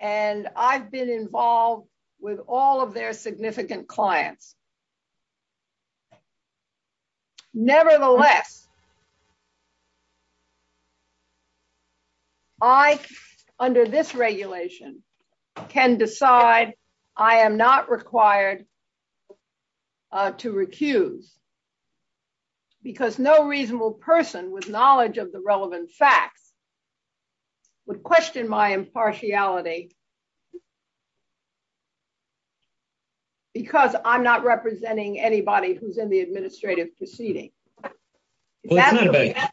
and I've been involved with all of their significant clients, nevertheless, I, under this regulation, can decide I am not required to recuse because no reasonable person with knowledge of the relevant facts would question my impartiality because I'm not representing anybody who's in the administrative proceeding. It's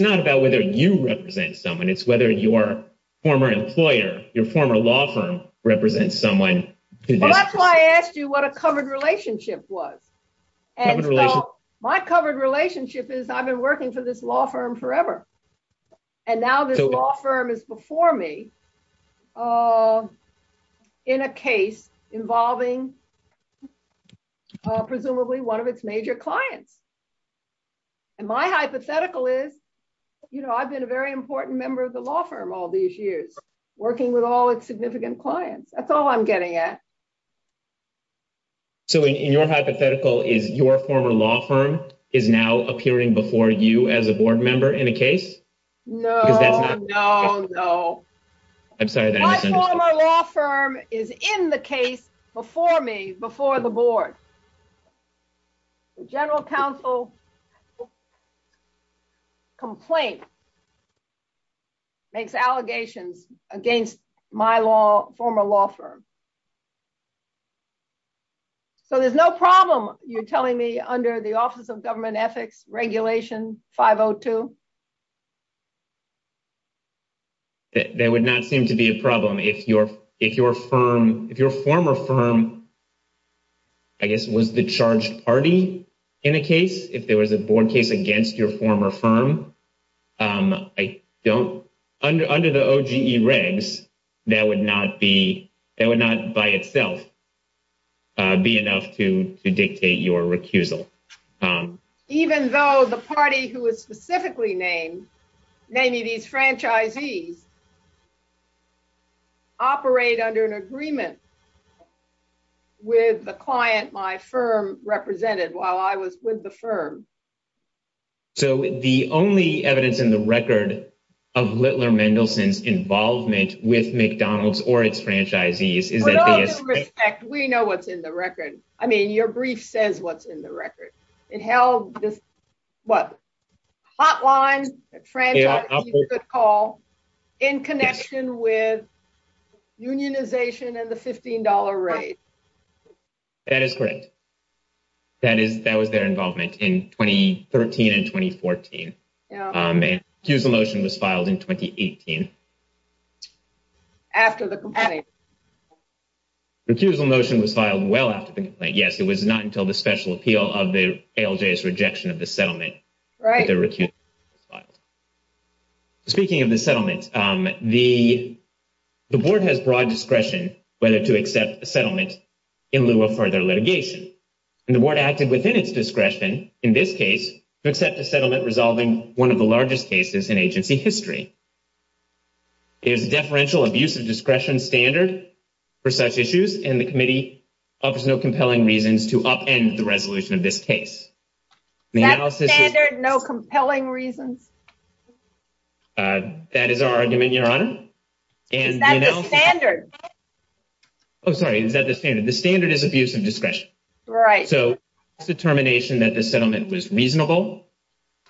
not about whether you represent someone. It's whether your former employer, your former law firm represents someone. That's why I asked you what a covered relationship was. My covered relationship is I've been working for this law firm forever. And now this law firm is before me in a case involving presumably one of its major clients. And my hypothetical is, you know, I've been a very important member of the law firm all these years, working with all its significant clients. That's all I'm getting at. So, in your hypothetical, is your former law firm is now appearing before you as a board member in a case? No, no, no. I'm sorry to interrupt. My former law firm is in the case before me, before the board. The general counsel complaint makes allegations against my former law firm. So there's no problem, you're telling me, under the Office of Government Ethics Regulation 502? There would not seem to be a problem. If your former firm, I guess, was the charge party in the case, if there was a board case against your former firm, under the OGE regs, that would not by itself be enough to dictate your recusal. Even though the party who was specifically named, maybe these franchisees, operate under an agreement with the client my firm represented while I was with the firm. So the only evidence in the record of Littler Mendelsohn's involvement with McDonald's or its franchisees... With all due respect, we know what's in the record. I mean, your brief says what's in the record. It held the hotline, the franchisees you could call, in connection with unionization and the $15 raise. That is correct. That was their involvement in 2013 and 2014. The recusal motion was filed in 2018. After the complaint. The recusal motion was filed well after the complaint, yes. It was not until the special appeal of the ALJ's rejection of the settlement that the recusal motion was filed. Speaking of the settlement, the board has broad discretion whether to accept the settlement in lieu of further litigation. And the board acted within its discretion in this case to accept the settlement, resolving one of the largest cases in agency history. There is a deferential abuse of discretion standard for such issues, and the committee offers no compelling reasons to upend the resolution of this case. That standard, no compelling reasons? That is our argument, your honor. That's the standard. Oh, sorry, is that the standard? The standard is abuse of discretion. Right. So, determination that the settlement was reasonable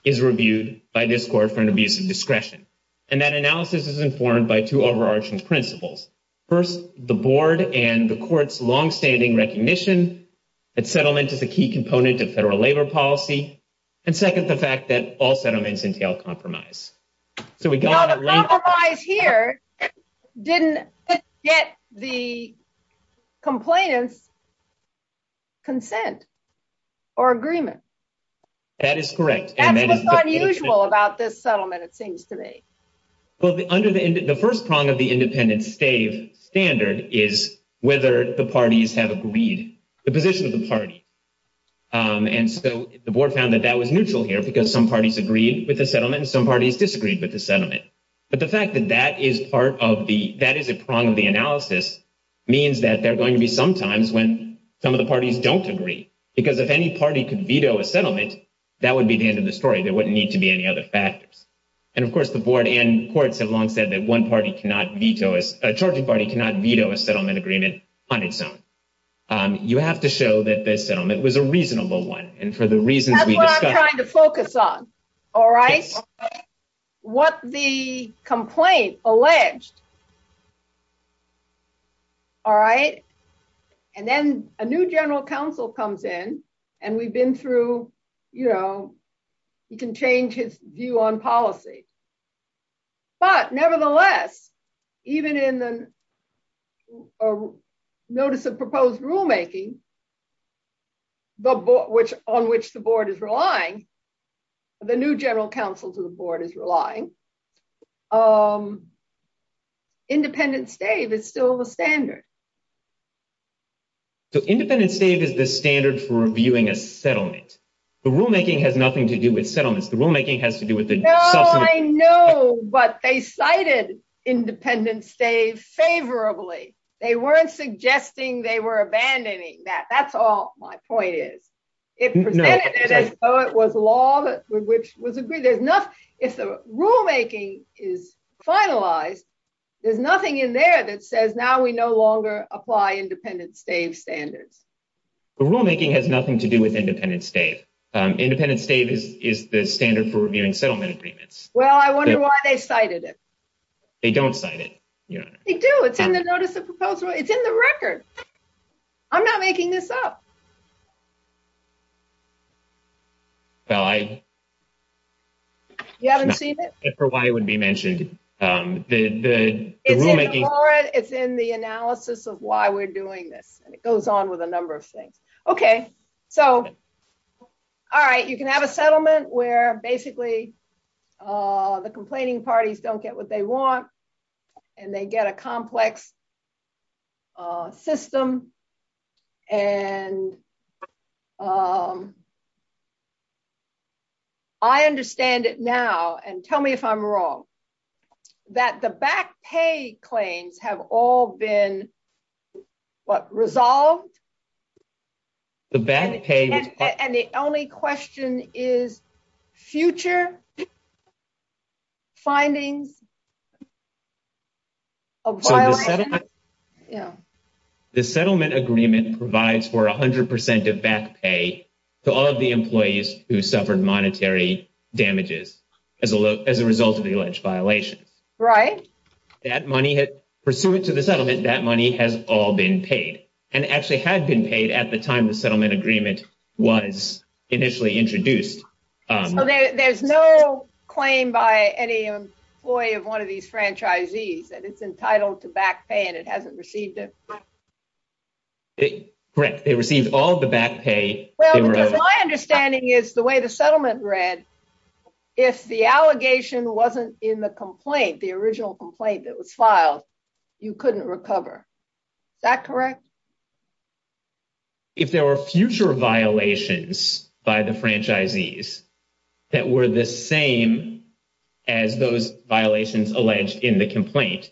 is reviewed by this court for an abuse of discretion. And that analysis is informed by two overarching principles. First, the board and the court's longstanding recognition that settlement is a key component of federal labor policy. And second, the fact that all settlements entail compromise. Compromise here didn't get the complainant's consent or agreement. That is correct. That's what's unusual about this settlement of things today. Well, the first prong of the independent stave standard is whether the parties have agreed. The position of the party. And so the board found that that was neutral here because some parties agreed with the settlement and some parties disagreed with the settlement. But the fact that that is part of the – that is a prong of the analysis means that there are going to be some times when some of the parties don't agree. Because if any party could veto a settlement, that would be the end of the story. There wouldn't need to be any other factors. And, of course, the board and courts have long said that one party cannot veto – a charging party cannot veto a settlement agreement on its own. You have to show that this settlement was a reasonable one. And for the reasons we discussed – That's what I'm trying to focus on. All right? Okay. What the complaint alleged. All right? And then a new general counsel comes in, and we've been through – you know, you can change his view on policy. But, nevertheless, even in the notice of proposed rulemaking, on which the board is relying, the new general counsel to the board is relying, independent stave is still the standard. So independent stave is the standard for reviewing a settlement. The rulemaking has nothing to do with settlements. The rulemaking has to do with the – I know, but they cited independent stave favorably. They weren't suggesting they were abandoning that. That's all my point is. It presented it as though it was law, which was agreed. If the rulemaking is finalized, there's nothing in there that says now we no longer apply independent stave standards. The rulemaking has nothing to do with independent stave. Independent stave is the standard for reviewing settlement agreements. Well, I wonder why they cited it. They don't cite it. They do. It's in the notice of proposal. It's in the record. I'm not making this up. You haven't seen it? I don't remember why it would be mentioned. It's in the analysis of why we're doing this, and it goes on with a number of things. Okay. All right, you can have a settlement where basically the complaining parties don't get what they want, and they get a complex system. I understand it now, and tell me if I'm wrong, that the back pay claims have all been, what, resolved? The back pay... And the only question is future finding a violation? Yeah. The settlement agreement provides for 100% of back pay to all of the employees who suffered monetary damages as a result of the alleged violation. Right. Pursuant to the settlement, that money has all been paid, and actually had been paid at the time the settlement agreement was initially introduced. So there's no claim by any employee of one of these franchisees that it's entitled to back pay and it hasn't received it? Correct. They received all of the back pay. Well, my understanding is the way the settlement read, if the allegation wasn't in the complaint, the original complaint that was filed, you couldn't recover. Is that correct? If there were future violations by the franchisees that were the same as those violations alleged in the complaint,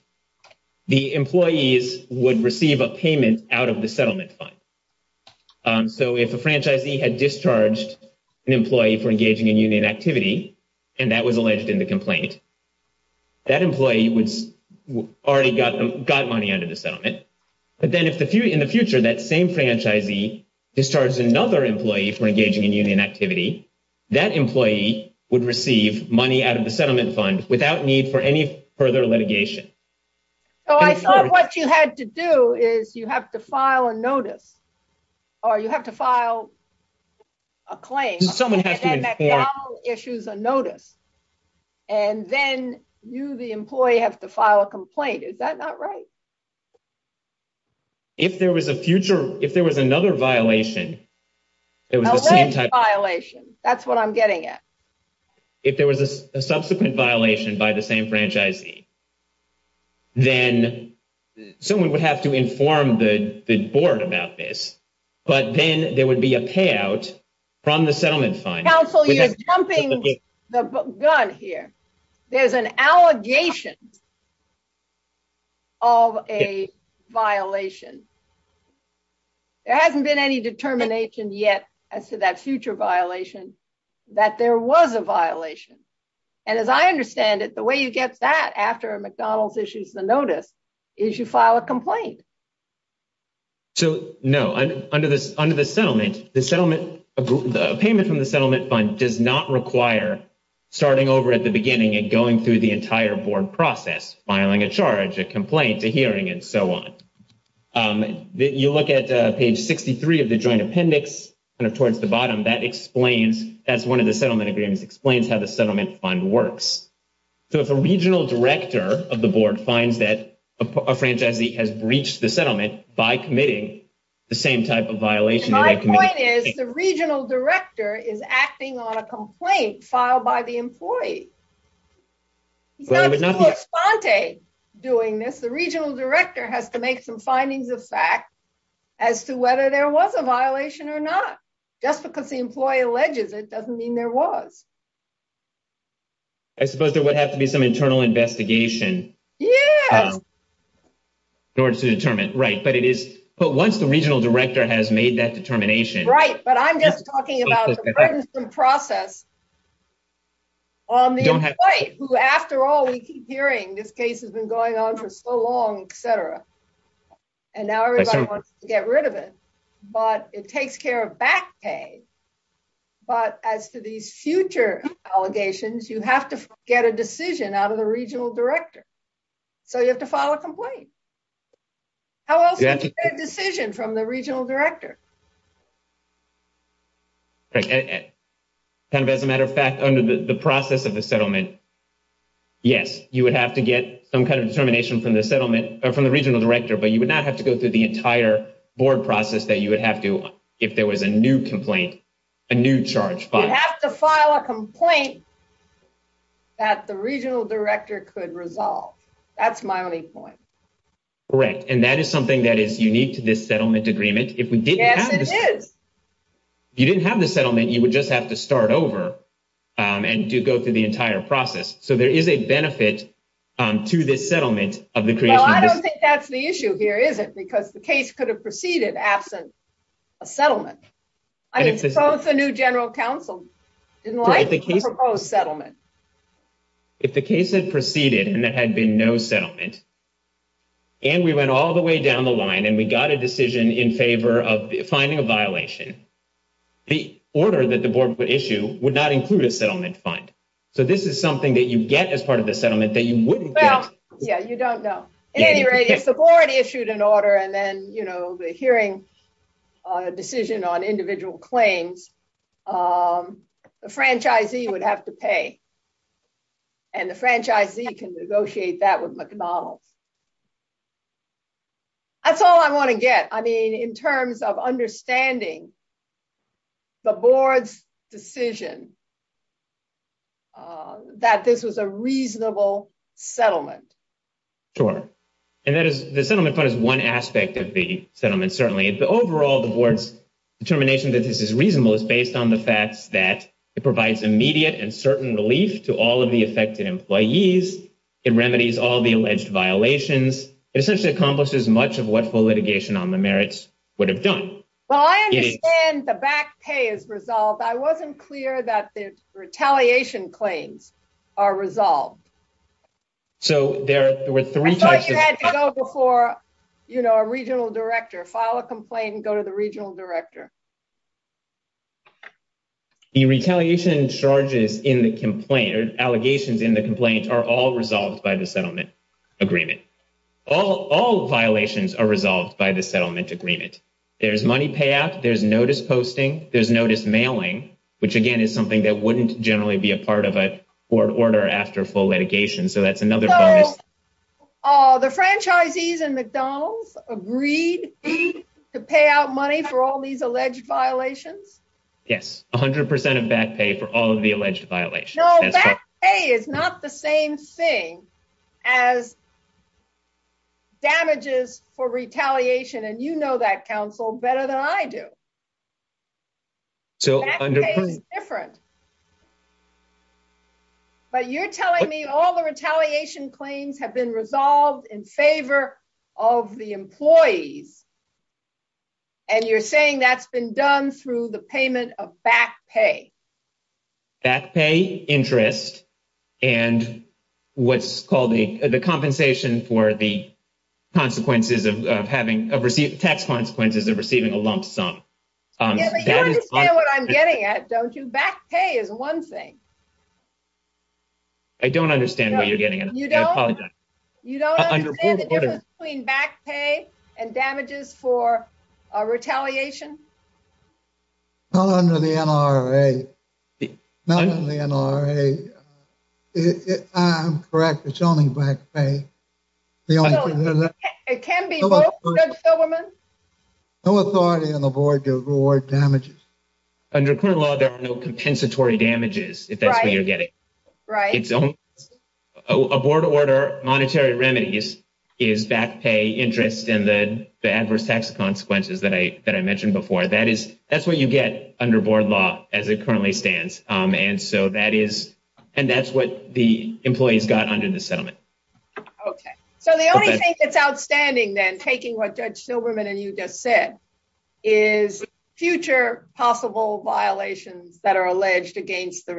the employees would receive a payment out of the settlement fund. So if a franchisee had discharged an employee for engaging in union activity, and that was alleged in the complaint, that employee already got money out of the settlement. But then if, in the future, that same franchisee discharged another employee for engaging in union activity, that employee would receive money out of the settlement fund without need for any further litigation. So I thought what you had to do is you have to file a notice, or you have to file a claim, and that now issues a notice. And then you, the employee, have to file a complaint. Is that not right? If there was a future, if there was another violation. Alleged violation. That's what I'm getting at. If there was a subsequent violation by the same franchisee. Then someone would have to inform the board about this. But then there would be a payout from the settlement fund. Council, you're jumping the gun here. There's an allegation of a violation. There hasn't been any determination yet as to that future violation that there was a violation. And as I understand it, the way you get that after a McDonald's issues the notice is you file a complaint. So, no, under the settlement, the payment from the settlement fund does not require starting over at the beginning and going through the entire board process, filing a charge, a complaint, a hearing, and so on. You look at page 63 of the joint appendix, towards the bottom, that explains, that's one of the settlement agreements, explains how the settlement fund works. So, if a regional director of the board finds that a franchisee has breached the settlement by committing the same type of violation. My point is, the regional director is acting on a complaint filed by the employee. With Fonte doing this, the regional director has to make some findings of fact as to whether there was a violation or not. Just because the employee alleges it doesn't mean there was. I suppose there would have to be some internal investigation. Yeah. In order to determine, right. But once the regional director has made that determination. Right, but I'm just talking about the presence and process on the employee, who after all, we keep hearing this case has been going on for so long, etc. And now everybody wants to get rid of it. But it takes care of back pay. But as to these future allegations, you have to get a decision out of the regional director. So, you have to file a complaint. How else do you get a decision from the regional director? Right. As a matter of fact, under the process of the settlement, yes, you would have to get some kind of determination from the settlement, or from the regional director. But you would not have to go through the entire board process that you would have to if there was a new complaint, a new charge filed. You have to file a complaint that the regional director could resolve. That's my only point. Correct. And that is something that is unique to this settlement agreement. Yes, it is. If you didn't have the settlement, you would just have to start over and go through the entire process. So, there is a benefit to the settlement. Well, I don't think that's the issue here, is it? Because the case could have proceeded absent a settlement. I suppose the new general counsel didn't like the proposed settlement. If the case had proceeded and there had been no settlement, and we went all the way down the line and we got a decision in favor of finding a violation, the order that the board would issue would not include a settlement fund. So, this is something that you get as part of the settlement that you wouldn't get. Well, yes, you don't know. In any rate, if the board issued an order and then the hearing decision on individual claims, the franchisee would have to pay. And the franchisee can negotiate that with McDonnell. That's all I want to get. I mean, in terms of understanding the board's decision that this was a reasonable settlement. Correct. And the settlement fund is one aspect of the settlement, certainly. Overall, the board's determination that this is reasonable is based on the fact that it provides immediate and certain relief to all of the affected employees. It remedies all the alleged violations. It essentially encompasses much of what the litigation on the merits would have done. Well, I understand the back pay is resolved. I wasn't clear that the retaliation claims are resolved. So, there were three types of... You had to go before a regional director, file a complaint and go to the regional director. The retaliation charges in the complaint, or allegations in the complaint, are all resolved by the settlement agreement. All violations are resolved by the settlement agreement. There's money payout, there's notice posting, there's notice mailing, which, again, is something that wouldn't generally be a part of a board order after full litigation. So, that's another... So, the franchisees in McDonald's agreed to pay out money for all these alleged violations? Yes. 100% of back pay for all of the alleged violations. No, back pay is not the same thing as damages for retaliation. And you know that, counsel, better than I do. Back pay is different. But you're telling me all the retaliation claims have been resolved in favor of the employees. And you're saying that's been done through the payment of back pay. Back pay, interest, and what's called the compensation for the consequences of having... Tax consequences of receiving a lump sum. You understand what I'm getting at, don't you? Back pay is one thing. I don't understand what you're getting at. You don't understand the difference between back pay and damages for retaliation? Not under the NRA. Not under the NRA. I'm correct, it's only back pay. It can be both, Judge Silverman. No authority on the board to reward damages. Under current law, there are no compensatory damages, if that's what you're getting. A board order, monetary remedies, is back pay, interest, and the adverse tax consequences that I mentioned before. That's what you get under board law as it currently stands. And that's what the employees got under the settlement. Okay. So the only thing that's outstanding then, taking what Judge Silverman and you just said, is future possible violations that are alleged against the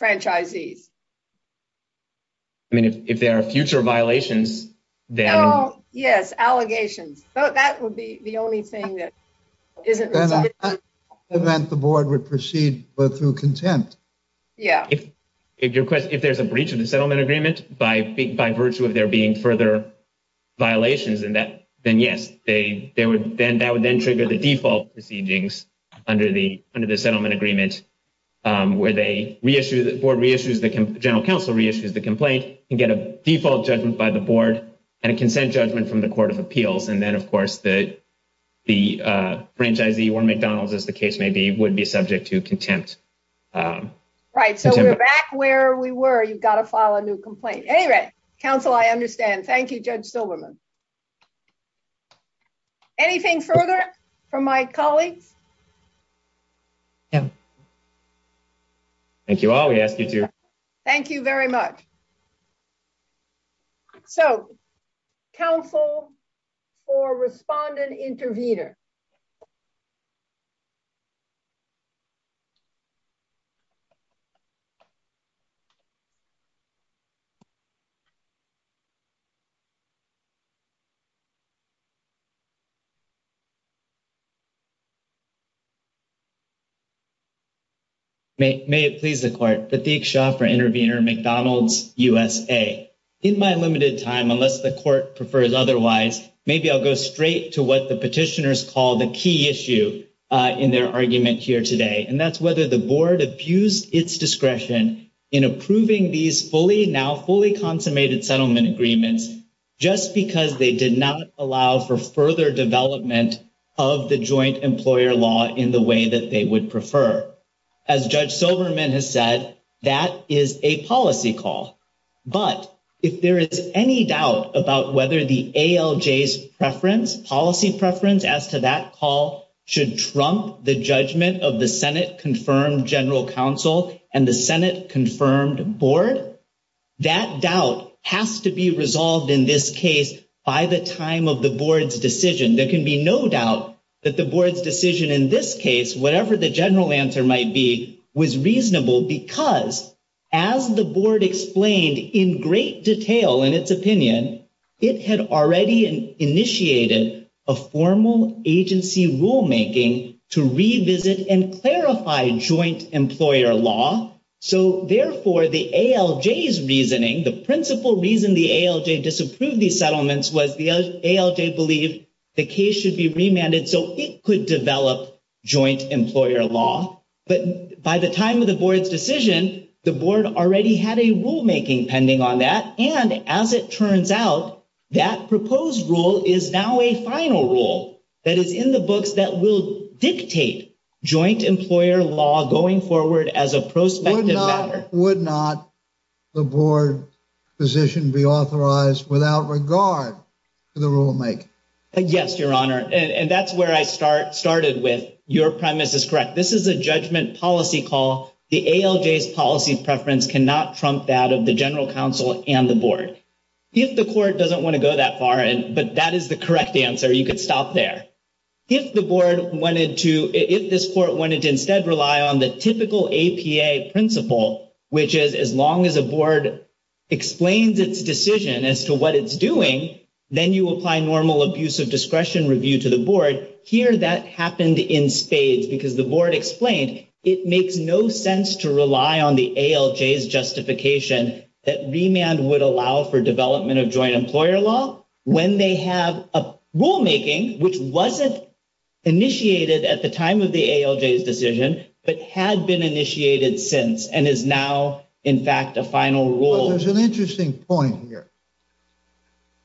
franchisees. I mean, if there are future violations, then... Yes, allegations. That would be the only thing that isn't... Then the board would proceed through contempt. Yes. If there's a breach of the settlement agreement by virtue of there being further violations, then yes. That would then trigger the default proceedings under the settlement agreement, where the board reissues, the general counsel reissues the complaint, and get a default judgment by the board and a consent judgment from the Court of Appeals. And then, of course, the franchisee or McDonald's, as the case may be, would be subject to contempt. Right. So we're back where we were. You've got to file a new complaint. Anyway, counsel, I understand. Thank you, Judge Silverman. Anything further from my colleagues? No. Thank you all. We ask you to... Thank you very much. So, counsel for respondent intervener. Thank you. May it please the Court. Satheek Shah for Intervener, McDonald's, USA. In my limited time, unless the Court prefers otherwise, maybe I'll go straight to what the petitioners call the key issue in their argument here today, which is that the board abused its discretion in approving these now fully consummated settlement agreements just because they did not allow for further development of the joint employer law in the way that they would prefer. As Judge Silverman has said, that is a policy call. But if there is any doubt about whether the ALJ's preference, policy preference as to that call, should trump the judgment of the Senate-confirmed general counsel and the Senate-confirmed board, that doubt has to be resolved in this case by the time of the board's decision. There can be no doubt that the board's decision in this case, whatever the general answer might be, was reasonable because, as the board explained in great detail in its opinion, it had already initiated a formal agency rulemaking to revisit and clarify joint employer law. So, therefore, the ALJ's reasoning, the principal reason the ALJ disapproved these settlements was because the ALJ believed the case should be remanded so it could develop joint employer law. By the time of the board's decision, the board already had a rulemaking pending on that. And, as it turns out, that proposed rule is now a final rule that is in the books that will dictate joint employer law going forward as a prospective matter. Would not the board position be authorized without regard to the rulemaking? Yes, Your Honor. And that's where I started with. Your premise is correct. This is a judgment policy call. The ALJ's policy preference cannot trump that of the general counsel and the board. If the court doesn't want to go that far, but that is the correct answer, you could stop there. If the board wanted to, if this court wanted to instead rely on the typical APA principle, which is as long as the board explains its decision as to what it's doing, then you apply normal abuse of discretion review to the board. Here, that happened in spades because the board explained it makes no sense to rely on the ALJ's justification that remand would allow for development of joint employer law when they have a rulemaking which wasn't initiated at the time of the ALJ's decision, but had been initiated since, and is now, in fact, a final rule. There's an interesting point here.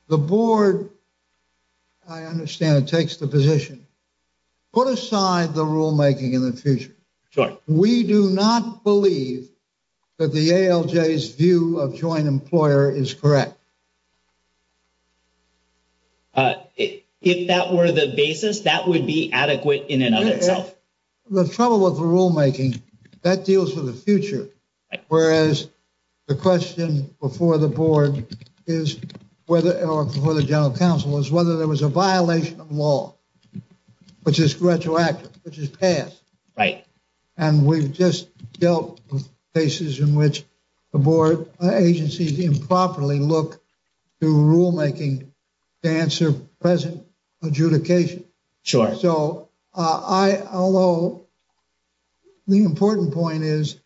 The board, I understand, takes the position. Put aside the rulemaking in the future. We do not believe that the ALJ's view of joint employer is correct. If that were the basis, that would be adequate in another case? The trouble with the rulemaking, that deals with the future. Whereas, the question before the board is, or before the general counsel, is whether there was a violation of law, which is retroactive, which is past. And we've just dealt with cases in which the board agencies improperly look to rulemaking to answer present adjudication. So, although the important point is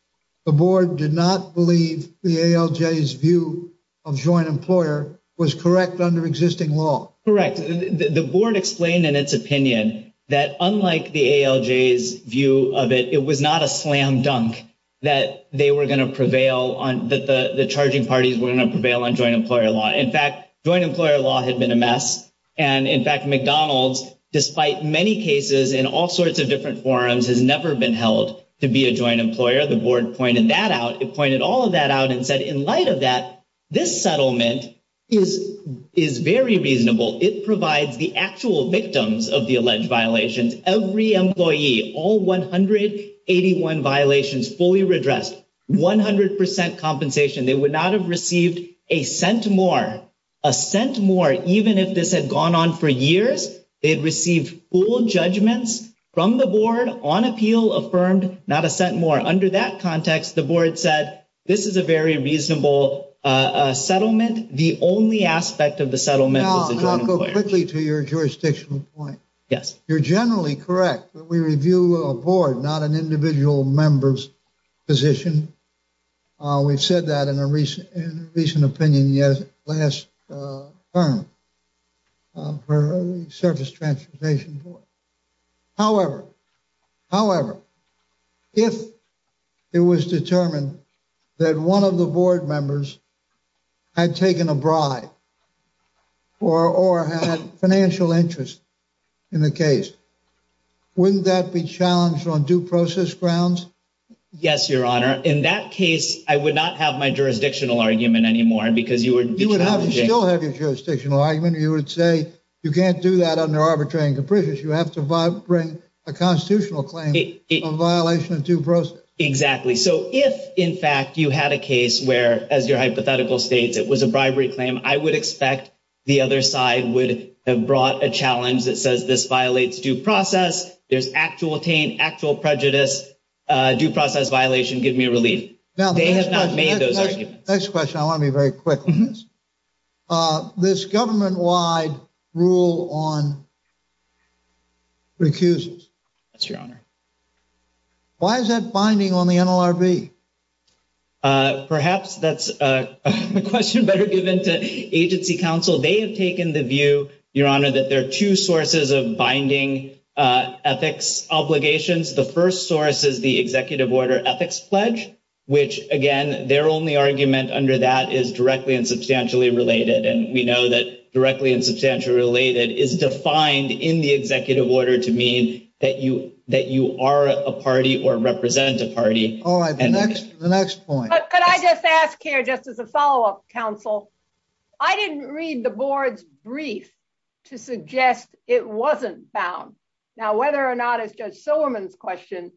the board did not believe the ALJ's view of joint employer was correct under existing law. Correct. The board explained in its opinion that unlike the ALJ's view of it, it was not a slam dunk that they were going to prevail, that the charging parties were going to prevail on joint employer law. In fact, joint employer law had been amassed. And in fact, McDonald's, despite many cases in all sorts of different forums, has never been held to be a joint employer. The board pointed that out. It pointed all of that out and said, in light of that, this settlement is very reasonable. It provides the actual victims of the alleged violations. Every employee, all 181 violations fully redressed, 100% compensation. They would not have received a cent more. A cent more, even if this had gone on for years, they'd receive full judgments from the board on appeal affirmed, not a cent more. Under that context, the board said, this is a very reasonable settlement. The only aspect of the settlement was the joint employer. Now, I'll go quickly to your jurisdictional point. Yes. You're generally correct when we review a board, not an individual member's position. We've said that in a recent opinion last term for a service transportation board. However, if it was determined that one of the board members had taken a bribe or had financial interest in the case, wouldn't that be challenged on due process grounds? Yes, Your Honor. In that case, I would not have my jurisdictional argument anymore. You don't have your jurisdictional argument. You would say you can't do that under arbitration. You have to bring a constitutional claim on violation of due process. Exactly. If, in fact, you had a case where, as your hypothetical states, it was a bribery claim, I would expect the other side would have brought a challenge that says this violates due process. There's actual taint, actual prejudice. Due process violation, give me a release. They have not made those arguments. Next question, I want to be very quick on this. This government-wide rule on recusals. Yes, Your Honor. Why is that binding on the NLRB? Perhaps that's a question better given to agency counsel. They have taken the view, Your Honor, that there are two sources of binding ethics obligations. The first source is the Executive Order Ethics Pledge, which, again, their only argument under that is directly and substantially related. We know that directly and substantially related is defined in the Executive Order to mean that you are a party or represent a party. All right, the next point. Can I just ask here, just as a follow-up, counsel? I didn't read the board's brief to suggest it wasn't bound. Now, whether or not it's Judge Silverman's question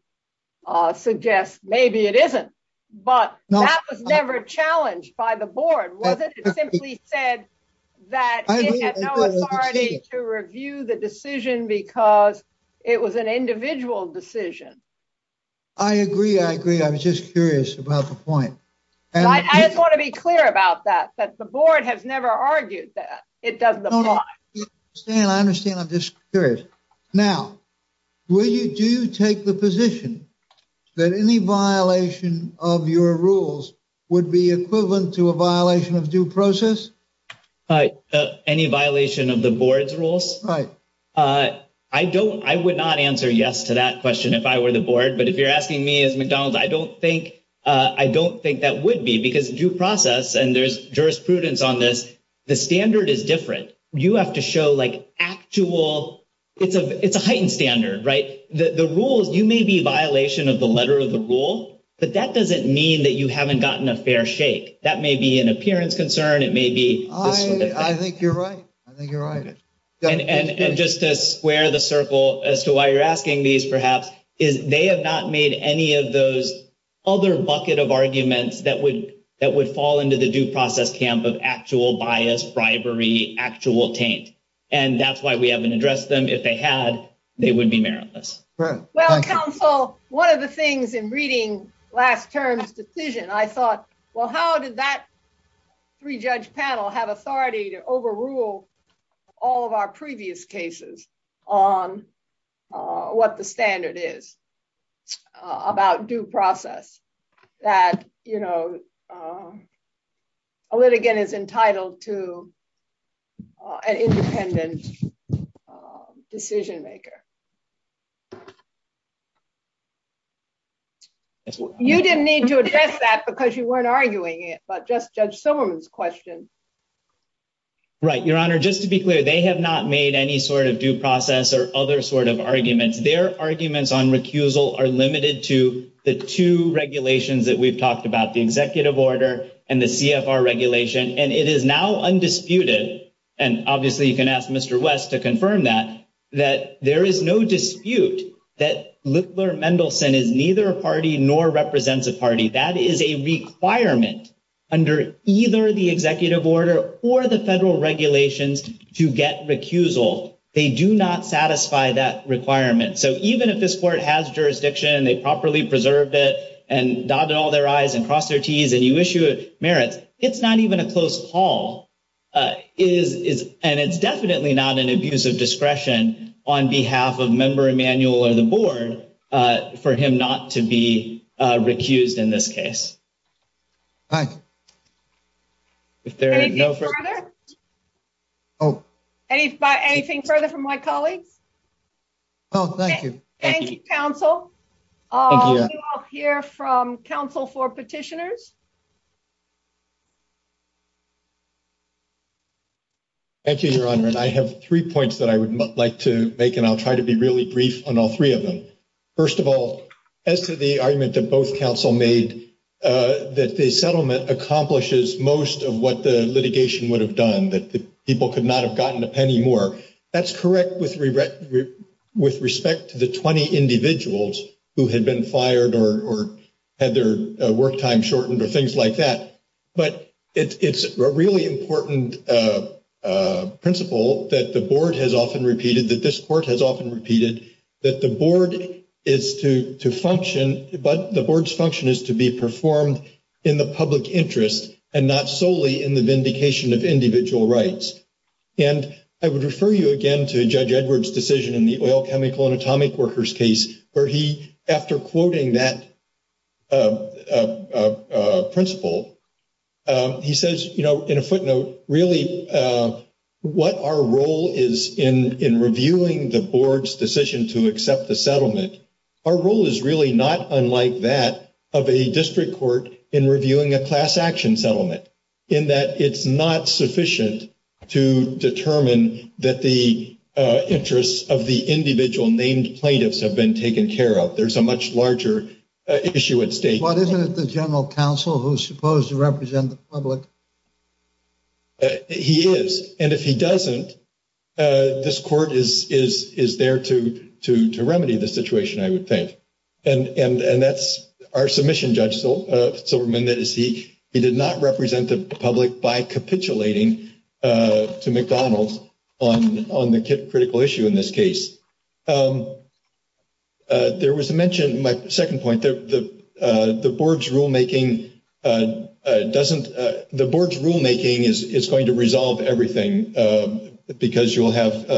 suggests maybe it isn't, but that was never challenged by the board, was it? It simply said that it had no authority to review the decision because it was an individual decision. I agree, I agree. I was just curious about the point. I just want to be clear about that, that the board has never argued that it doesn't apply. I understand. I understand. I'm just curious. Now, will you do take the position that any violation of your rules would be equivalent to a violation of due process? Any violation of the board's rules? Right. I would not answer yes to that question if I were the board, but if you're asking me as McDonald's, I don't think that would be because due process, and there's jurisprudence on this, the standard is different. You have to show like actual, it's a heightened standard, right? The rule, you may be a violation of the letter of the rule, but that doesn't mean that you haven't gotten a fair shake. That may be an appearance concern. It may be... I think you're right. I think you're right. And just to square the circle as to why you're asking these, perhaps, is they have not made any of those other bucket of arguments that would fall into the due process camp of actual bias, bribery, actual taint, and that's why we haven't addressed them. If they had, they would be meritless. Well, counsel, one of the things in reading last term's decision, I thought, well, how did that three-judge panel have authority to overrule all of our previous cases on what the standard is about due process? That a litigant is entitled to an independent decision maker. You didn't need to address that because you weren't arguing it, but just Judge Silverman's question. Right. Your Honor, just to be clear, they have not made any sort of due process or other sort of argument. Their arguments on recusal are limited to the two regulations that we've talked about, the executive order and the CFR regulation, and it is now undisputed, and obviously you can ask Mr. West to confirm that, that there is no dispute that Littler-Mendelson is neither a party nor represents a party. That is a requirement under either the executive order or the federal regulations to get recusal. They do not satisfy that requirement. So even if this court has jurisdiction and they've properly preserved it and nodded all their eyes and crossed their teeth and you issue a merit, it's not even a close call, and it's definitely not an abuse of discretion on behalf of Member Emanuel or the board for him not to be recused in this case. All right. Anything further? Oh. Anything further from my colleagues? No, thank you. Thank you, counsel. I'll hear from counsel for petitioners. Thank you, Your Honor, and I have three points that I would like to make, and I'll try to be really brief on all three of them. First of all, as to the argument that both counsel made, that the settlement accomplishes most of what the litigation would have done, that people could not have gotten a penny more, that's correct with respect to the 20 individuals who had been fired or had their work time shortened or things like that, but it's a really important principle that the board has often repeated, that this court has often repeated, that the board is to function, but the board's function is to be performed in the public interest and not solely in the vindication of individual rights. And I would refer you again to Judge Edwards' decision in the oil, chemical, and atomic workers case, where he, after quoting that principle, he says, you know, in a footnote, really what our role is in reviewing the board's decision to accept the settlement, our role is really not, unlike that of a district court in reviewing a class action settlement, in that it's not sufficient to determine that the interests of the individual named plaintiffs have been taken care of. There's a much larger issue at stake. Well, isn't it the general counsel who's supposed to represent the public? He is, and if he doesn't, this court is there to remedy the situation, I would think. And that's our submission, Judge Silberman, that is, he did not represent the public by capitulating to McDonald on the critical issue in this case. There was mention, my second point, that the board's rulemaking doesn't, the board's rulemaking is going to resolve everything because you'll have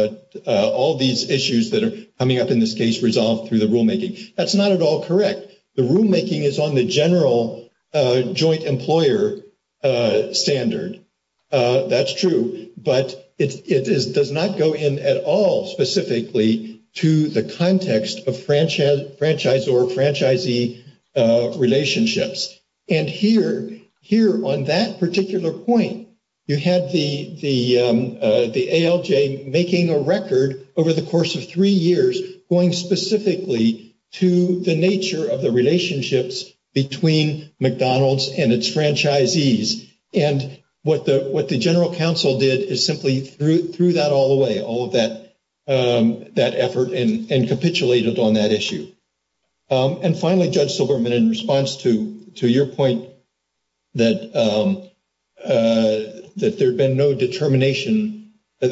all these issues that are coming up in this case resolved through the rulemaking. That's not at all correct. The rulemaking is on the general joint employer standard. That's true, but it does not go in at all specifically to the context of franchise or franchisee relationships. And here, on that particular point, you had the ALJ making a record over the course of three years going specifically to the nature of the relationships between McDonald's and its franchisees. And what the general counsel did is simply threw that all away, all of that effort, and capitulated on that issue. And finally, Judge Silberman, in response to your point that there had been no determination, that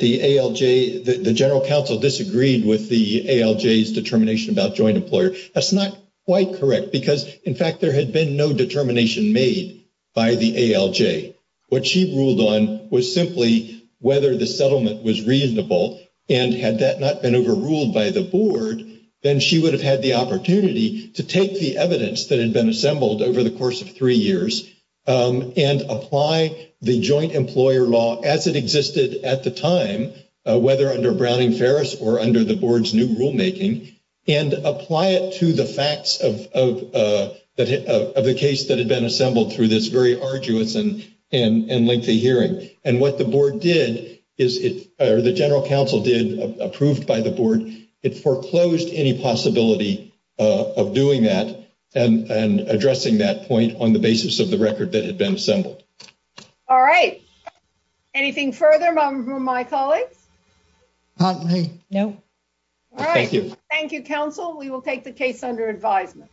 the ALJ, the general counsel disagreed with the ALJ's determination about joint employer, that's not quite correct because, in fact, there had been no determination made by the ALJ. What she ruled on was simply whether the settlement was reasonable, and had that not been overruled by the board, then she would have had the opportunity to take the evidence that had been assembled over the course of three years and apply the joint employer law as it existed at the time, whether under Browning-Ferris or under the board's new rulemaking, and apply it to the facts of the case that had been assembled through this very arduous and lengthy hearing. And what the board did, or the general counsel did, approved by the board, it foreclosed any possibility of doing that and addressing that point on the basis of the record that had been assembled. All right. Anything further from my colleagues? No. All right. Thank you, counsel. We will take the case under advisement.